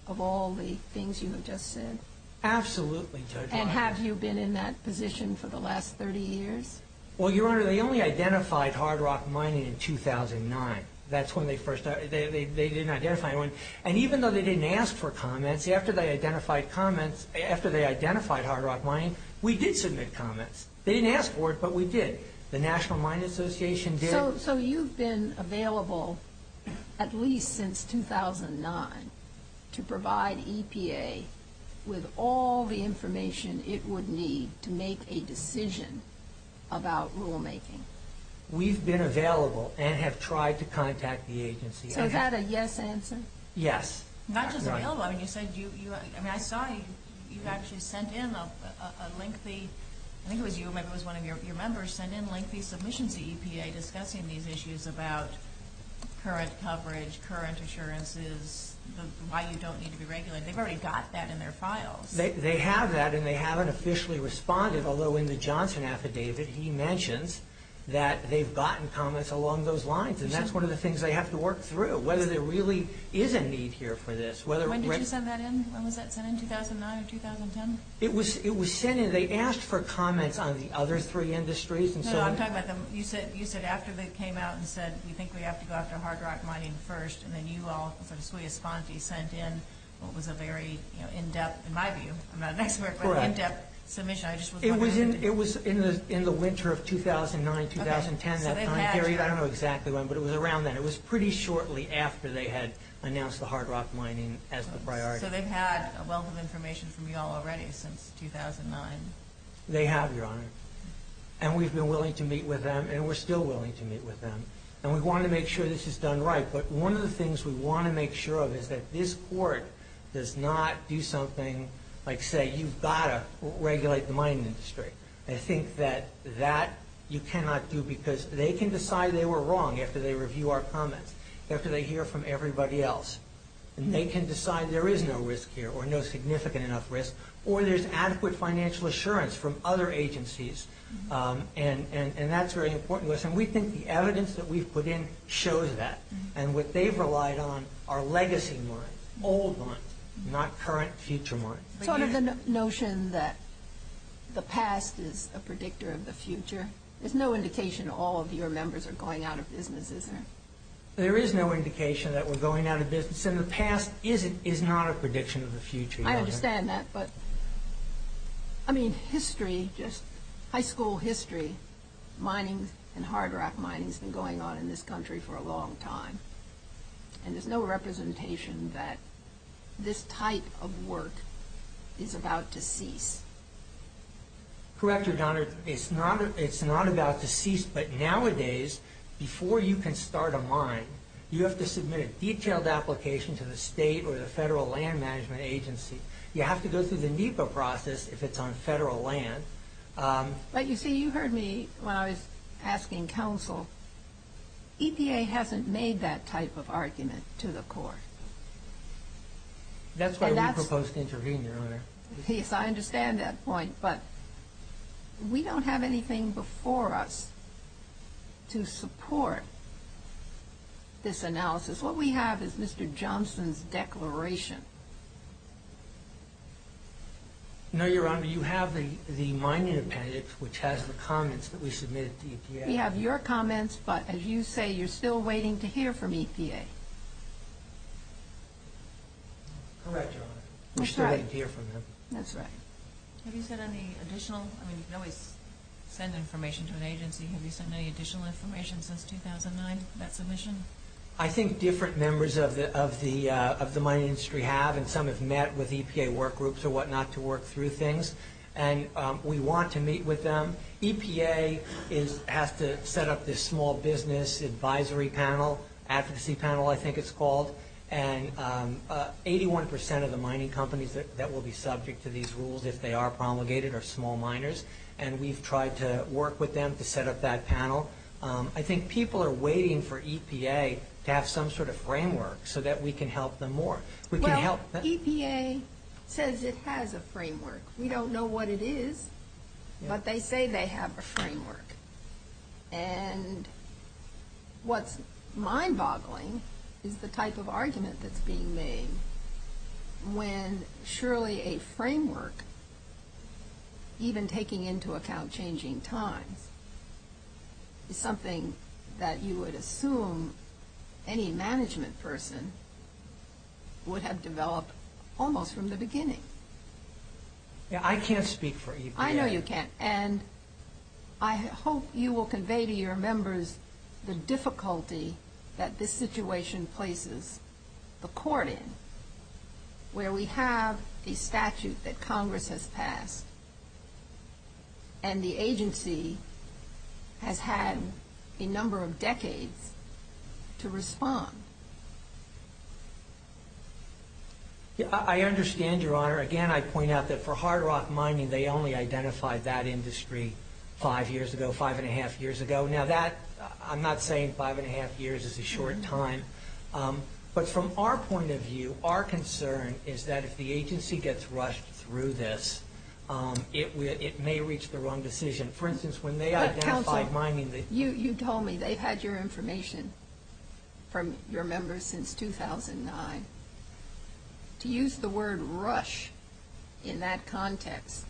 of all the things you have just said? Absolutely, Judge. And have you been in that position for the last 30 years? Well, Your Honor, they only identified hard rock mining in 2009. That's when they first, they didn't identify it. And even though they didn't ask for comments, after they identified comments, after they identified hard rock mining, we did submit comments. They didn't ask for it, but we did. The National Mine Association did. So you've been available at least since 2009 to provide EPA with all the information it would need to make a decision about rulemaking? We've been available and have tried to contact the agency. So have a yes answer? Yes. Not just a no one. You said you, I mean, I saw you actually sent in a lengthy, I think it was you, maybe it was one of your members, sent in lengthy submissions to EPA discussing these issues about current coverage, current assurances, why you don't need to be regulated. They've already got that in their files. They have that, and they haven't officially responded, although in the Johnson affidavit he mentions that they've gotten comments along those lines, and that's one of the things they have to work through, whether there really is a need here for this. When did you send that in? Was that sent in 2009 or 2010? It was sent in, they asked for comments on the other three industries. No, no, I'm talking about, you said after they came out and said, we think we have to go after hard rock mining first, and then you all officially responded. You sent in what was a very in-depth, in my view, I'm not an expert, but in-depth submission. It was in the winter of 2009, 2010, that time period. I don't know exactly when, but it was around then. It was pretty shortly after they had announced the hard rock mining as the priority. So they've had a wealth of information from you all already since 2009. They have, Your Honor, and we've been willing to meet with them, and we're still willing to meet with them, and we want to make sure this is done right, but one of the things we want to make sure of is that this court does not do something like say, you've got to regulate the mining industry. I think that that you cannot do because they can decide they were wrong after they review our comment, after they hear from everybody else, and they can decide there is no risk here or no significant enough risk, or there's adequate financial assurance from other agencies, and that's very important. We think the evidence that we've put in shows that, and what they've relied on are legacy mines, old mines, not current future mines. Sort of the notion that the past is a predictor of the future. There's no indication all of your members are going out of business, is there? There is no indication that we're going out of business, and the past is not a prediction of the future. I understand that, but I mean, history, just high school history, mining and hard rock mining has been going on in this country for a long time, and there's no representation that this type of work is about to cease. Correct her, Donna. It's not about to cease, but nowadays, before you can start a mine, you have to submit a detailed application to the state or the federal land management agency. You have to go through the NEPA process if it's on federal land. You see, you heard me when I was asking counsel. EPA hasn't made that type of argument to the court. That's why we proposed intervening, Your Honor. I understand that point, but we don't have anything before us to support this analysis. What we have is Mr. Johnson's declaration. No, Your Honor, you have the mining appendix, which has the comments that we submitted to EPA. We have your comments, but as you say, you're still waiting to hear from EPA. Correct, Your Honor. We're still waiting to hear from them. That's right. Have you sent any additional, I mean, you always send information to an agency. Have you sent any additional information since 2009, that submission? I think different members of the mining industry have, and some have met with EPA workgroups or whatnot to work through things, and we want to meet with them. EPA has to set up this small business advisory panel, advocacy panel I think it's called, and 81% of the mining companies that will be subject to these rules if they are promulgated are small miners, and we've tried to work with them to set up that panel. I think people are waiting for EPA to have some sort of framework so that we can help them more. EPA says it has a framework. We don't know what it is, but they say they have a framework, and what's mind-boggling is the type of argument that's being made when surely a framework, even taking into account changing times, is something that you would assume any management person would have developed almost from the beginning. I can't speak for EPA. I know you can't, and I hope you will convey to your members the difficulty that this situation places the court in, where we have a statute that Congress has passed, and the agency has had a number of decades to respond. I understand, Your Honor. Again, I point out that for hard rock mining, they only identified that industry five years ago, five and a half years ago. Now, I'm not saying five and a half years is a short time, but from our point of view, our concern is that if the agency gets rushed through this, it may reach the wrong decision. For instance, when they identified mining, you told me they had your information from your members since 2009. To use the word rush in that context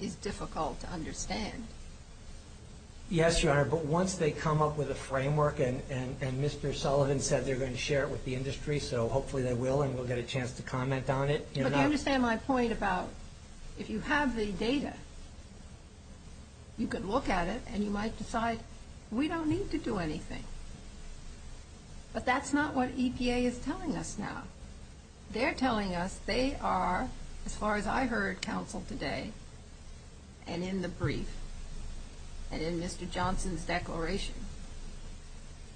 is difficult to understand. Yes, Your Honor, but once they come up with a framework, and Mr. Sullivan said they're going to share it with the industry, so hopefully they will, and we'll get a chance to comment on it. But you understand my point about if you have the data, you could look at it, and you might decide we don't need to do anything, but that's not what EPA is telling us now. They're telling us they are, as far as I heard counsel today, and in the brief, and in Mr. Johnson's declaration,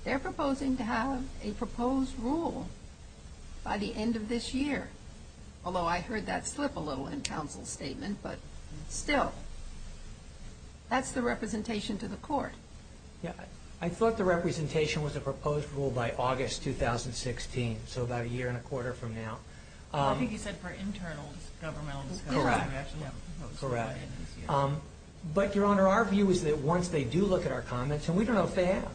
they're proposing to have a proposed rule by the end of this year, although I heard that slip a little in counsel's statement, but still, that's the representation to the court. I thought the representation was a proposed rule by August 2016, so about a year and a quarter from now. I think he said for internal government. Correct. Correct. But, Your Honor, our view is that once they do look at our comments, and we don't know if they have,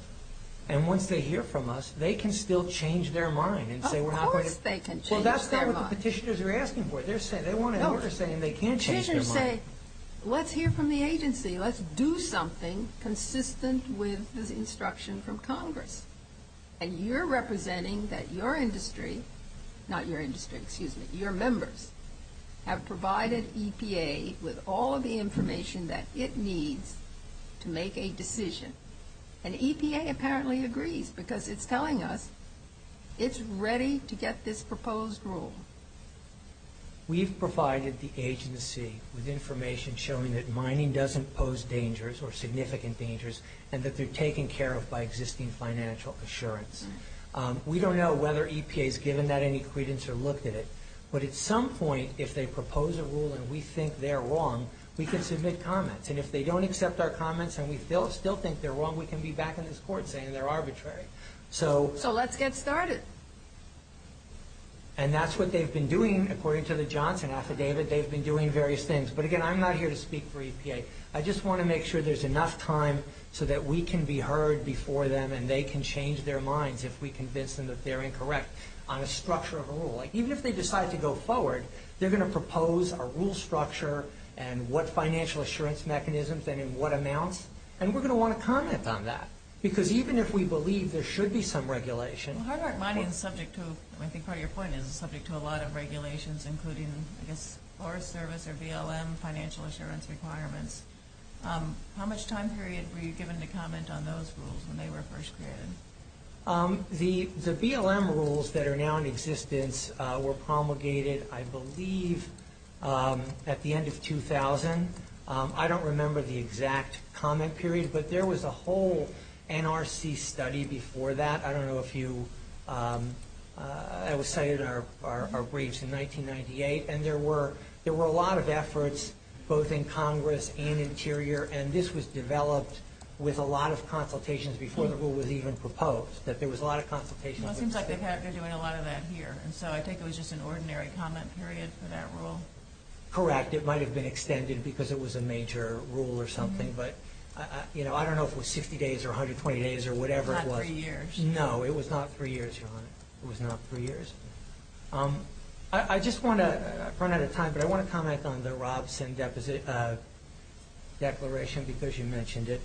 and once they hear from us, they can still change their mind. Of course they can change their mind. Well, that's what the petitioners are asking for. They want to hear what they're saying, and they can change their mind. Let's hear from the agency. Let's do something consistent with the instruction from Congress, and you're representing that your industry, not your industry, excuse me, your members have provided EPA with all the information that it needs to make a decision, and EPA apparently agrees because it's telling us it's ready to get this proposed rule. We've provided the agency with information showing that mining doesn't pose dangers or significant dangers and that they're taken care of by existing financial assurance. We don't know whether EPA has given that any credence or looked at it, but at some point if they propose a rule and we think they're wrong, we can submit comments, and if they don't accept our comments and we still think they're wrong, we can be back in this court saying they're arbitrary. So let's get started. And that's what they've been doing. According to the Johnson Affidavit, they've been doing various things. But, again, I'm not here to speak for EPA. I just want to make sure there's enough time so that we can be heard before them and they can change their minds if we convince them that they're incorrect on a structure of a rule. Even if they decide to go forward, they're going to propose a rule structure and what financial assurance mechanisms and in what amounts, and we're going to want to comment on that because even if we believe there should be some regulation. Well, how about mining is subject to, I think part of your point, and subject to a lot of regulations including Forest Service or BLM financial assurance requirements. How much time period were you given to comment on those rules when they were first created? The BLM rules that are now in existence were promulgated, I believe, at the end of 2000. I don't remember the exact comment period, but there was a whole NRC study before that. I don't know if you – I was cited in our briefs in 1998, and there were a lot of efforts both in Congress and Interior, and this was developed with a lot of consultations before the rule was even proposed. There was a lot of consultations. Well, it seems like they're doing a lot of that here, and so I think it was just an ordinary comment period for that rule. Correct. It might have been extended because it was a major rule or something, No, it was not for years, John. It was not for years? No. I just want to – I've run out of time, but I want to comment on the Robson Declaration, because you mentioned it.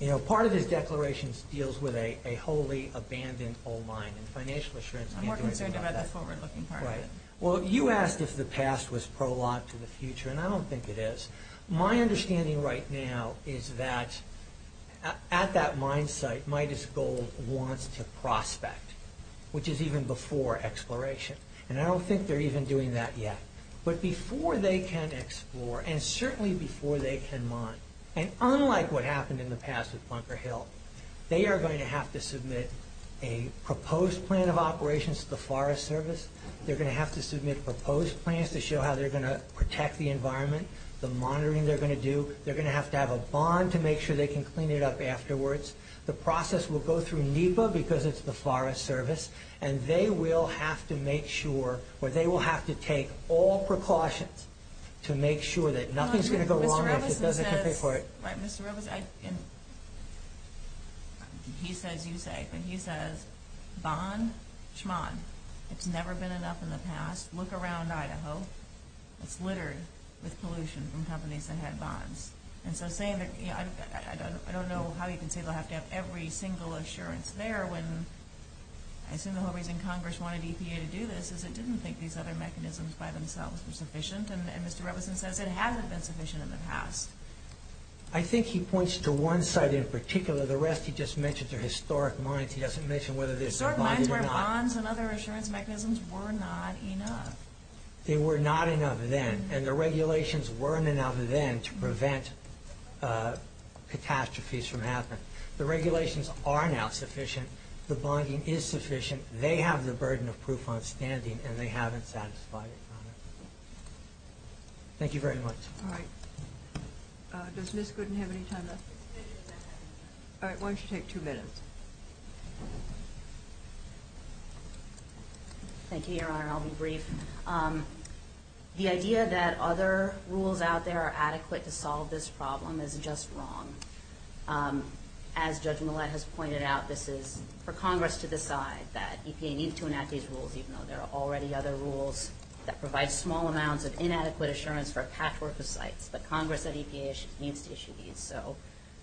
You know, part of this declaration deals with a wholly abandoned coal mine and financial assurance. I'm more concerned about that's what we're looking for. Right. Well, you asked if the past was prologue to the future, and I don't think it is. My understanding right now is that at that mine site, Midas Gold wants to prospect, which is even before exploration, and I don't think they're even doing that yet. But before they can explore, and certainly before they can mine, and unlike what happened in the past with Bunker Hill, they are going to have to submit a proposed plan of operations to the Forest Service. They're going to have to submit proposed plans to show how they're going to protect the environment, the monitoring they're going to do. They're going to have to have a bond to make sure they can clean it up afterwards. The process will go through NEPA, because it's the Forest Service, and they will have to make sure, or they will have to take all precautions to make sure that nothing's going to go wrong. I just have to say it. Mr. Robinson says – right, Mr. Robinson. He says, you say, and he says, bond, schmond. It's never been enough in the past. Look around Idaho. It's littered with pollution from companies that have bonds. I don't know how he can say they'll have to have every single assurance there. I assume the whole reason Congress wanted EPA to do this is they didn't think these other mechanisms by themselves were sufficient, and Mr. Robinson says it hasn't been sufficient in the past. I think he points to one side in particular. The rest he just mentions are historic mines. He doesn't mention whether there's – There were bonds and other assurance mechanisms were not enough. They were not enough then, and the regulations weren't enough then to prevent catastrophes from happening. The regulations are now sufficient. The bonding is sufficient. They have the burden of proof on standing, and they haven't satisfied it. Thank you very much. All right. Does Liz Gooden have any time left? All right. Why don't you take two minutes? Thank you, Your Honor. I'll be brief. The idea that other rules out there are adequate to solve this problem is just wrong. As Judge Millett has pointed out, this is for Congress to decide that EPA needs to enact these rules, even though there are already other rules that provide small amounts of inadequate assurance for a patchwork of sites, but Congress and EPA need to issue these. So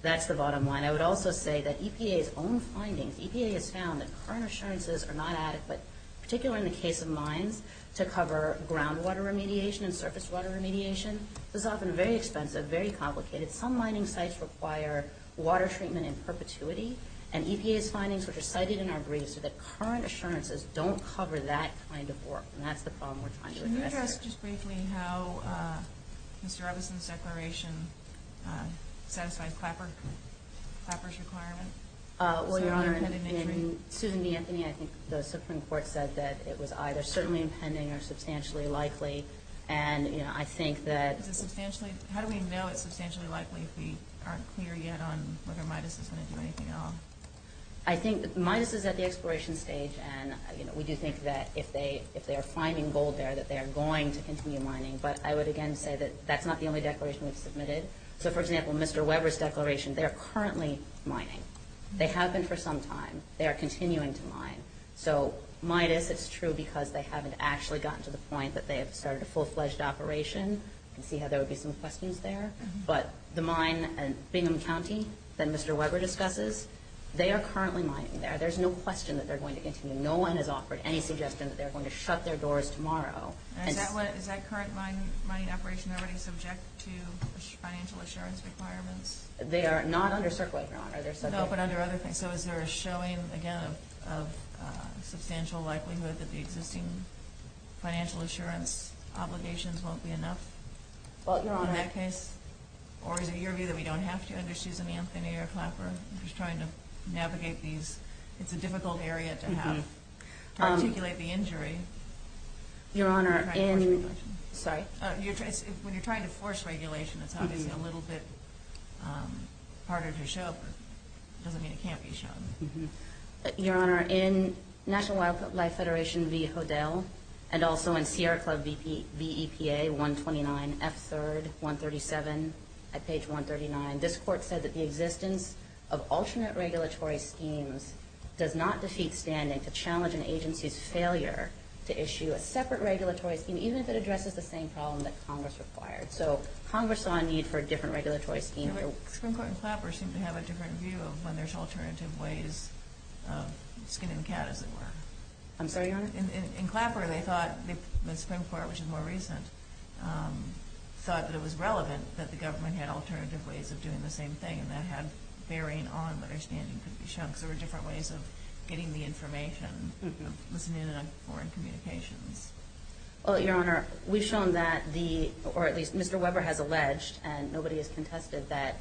that's the bottom line. I would also say that EPA's own findings – EPA has found that current assurances are not adequate, particularly in the case of mines, to cover groundwater remediation and surface water remediation. This is often very expensive, very complicated. Some mining sites require water treatment in perpetuity, and EPA's findings, which are cited in our briefs, are that current assurances don't cover that kind of work, and that's the problem we're trying to address here. Can you address just briefly how Mr. Robinson's declaration satisfies Clapper's requirement? Well, Your Honor, in Susan B. Anthony, I think the Supreme Court says that it was either certainly impending or substantially likely, and I think that... How do we know it's substantially likely if we aren't clear yet on whether MIDUS is going to do anything else? I think MIDUS is at the exploration stage, and we do think that if they are finding gold there, that they are going to continue mining. But I would again say that that's not the only declaration we've submitted. So, for example, Mr. Weber's declaration, they're currently mining. They have been for some time. They are continuing to mine. So MIDUS, it's true because they haven't actually gotten to the point that they have started a full-fledged operation. I see how there would be some questions there. But the mine in Bingham County that Mr. Weber discusses, they are currently mining there. There's no question that they're going to continue. No one has offered any suggestion that they're going to shut their doors tomorrow. Is that current mining operation already subject to financial assurance requirements? They are not under CERC right now. No, but under other things. So is there a showing, again, of substantial likelihood that the existing financial assurance obligations won't be enough? Well, you're on that case. Or is it your view that we don't have to have issues in the Antennae or Clapper? I'm just trying to navigate these. It's a difficult area to have. To articulate the injury. Your Honor, in— Sorry. When you're trying to force regulation, it's not even a little bit part of your show. It doesn't mean it can't be shown. Your Honor, in National Wildlife Federation v. Hodel, and also in Sierra Club v. EPA, 129, F-3rd, 137, at page 139, this court said that the existence of alternate regulatory schemes does not defeat standing to challenge an agency's failure to issue a separate regulatory scheme, even if it addresses the same problem that Congress requires. So Congress saw a need for a different regulatory scheme. The Supreme Court and Clapper seem to have a different view of when there's alternative ways of skinning the cat, as it were. I'm sorry, Your Honor? In Clapper, they thought—the Supreme Court, which is more recent, thought that it was relevant that the government had alternative ways of doing the same thing that have varying on understanding. It could be shown that there were different ways of getting the information within a foreign communication. Well, Your Honor, we've shown that the—or at least Mr. Weber has alleged, and nobody has contested, that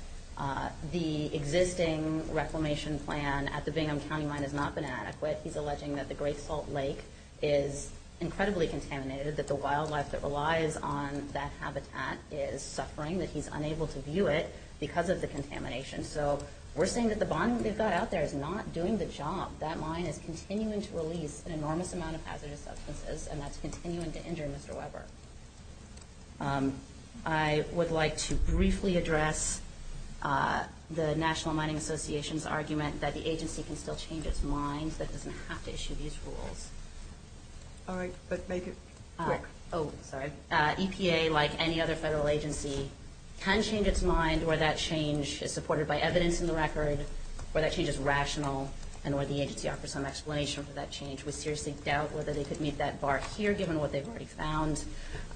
the existing reclamation plan at the Bingham County line has not been adequate. He's alleging that the Great Salt Lake is incredibly contaminated, that the wildlife that relies on that habitat is suffering, that he's unable to view it because of the contamination. So we're saying that the bottom line out there is not doing the job. That mine is continuing to release an enormous amount of hazardous substances, and that's continuing to injure Mr. Weber. I would like to briefly address the National Mining Association's argument that the agency can still change its mind, but doesn't have to issue these rules. All right, but make it quick. Oh, sorry. EPA, like any other federal agency, can change its mind where that change is supported by evidence in the record, where that change is rational, and where the agency offers some explanation for that change. We seriously doubt whether they could meet that bar here, given what they've already found,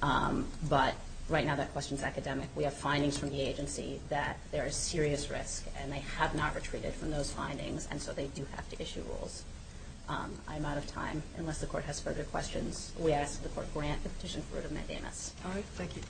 but right now that question is academic. We have findings from the agency that there is serious risk, and they have not retreated from those findings, and so they do have to issue rules. I'm out of time. Unless the court has further questions, we ask the court for an answer. Petition forwarded by Dana. All right, thank you.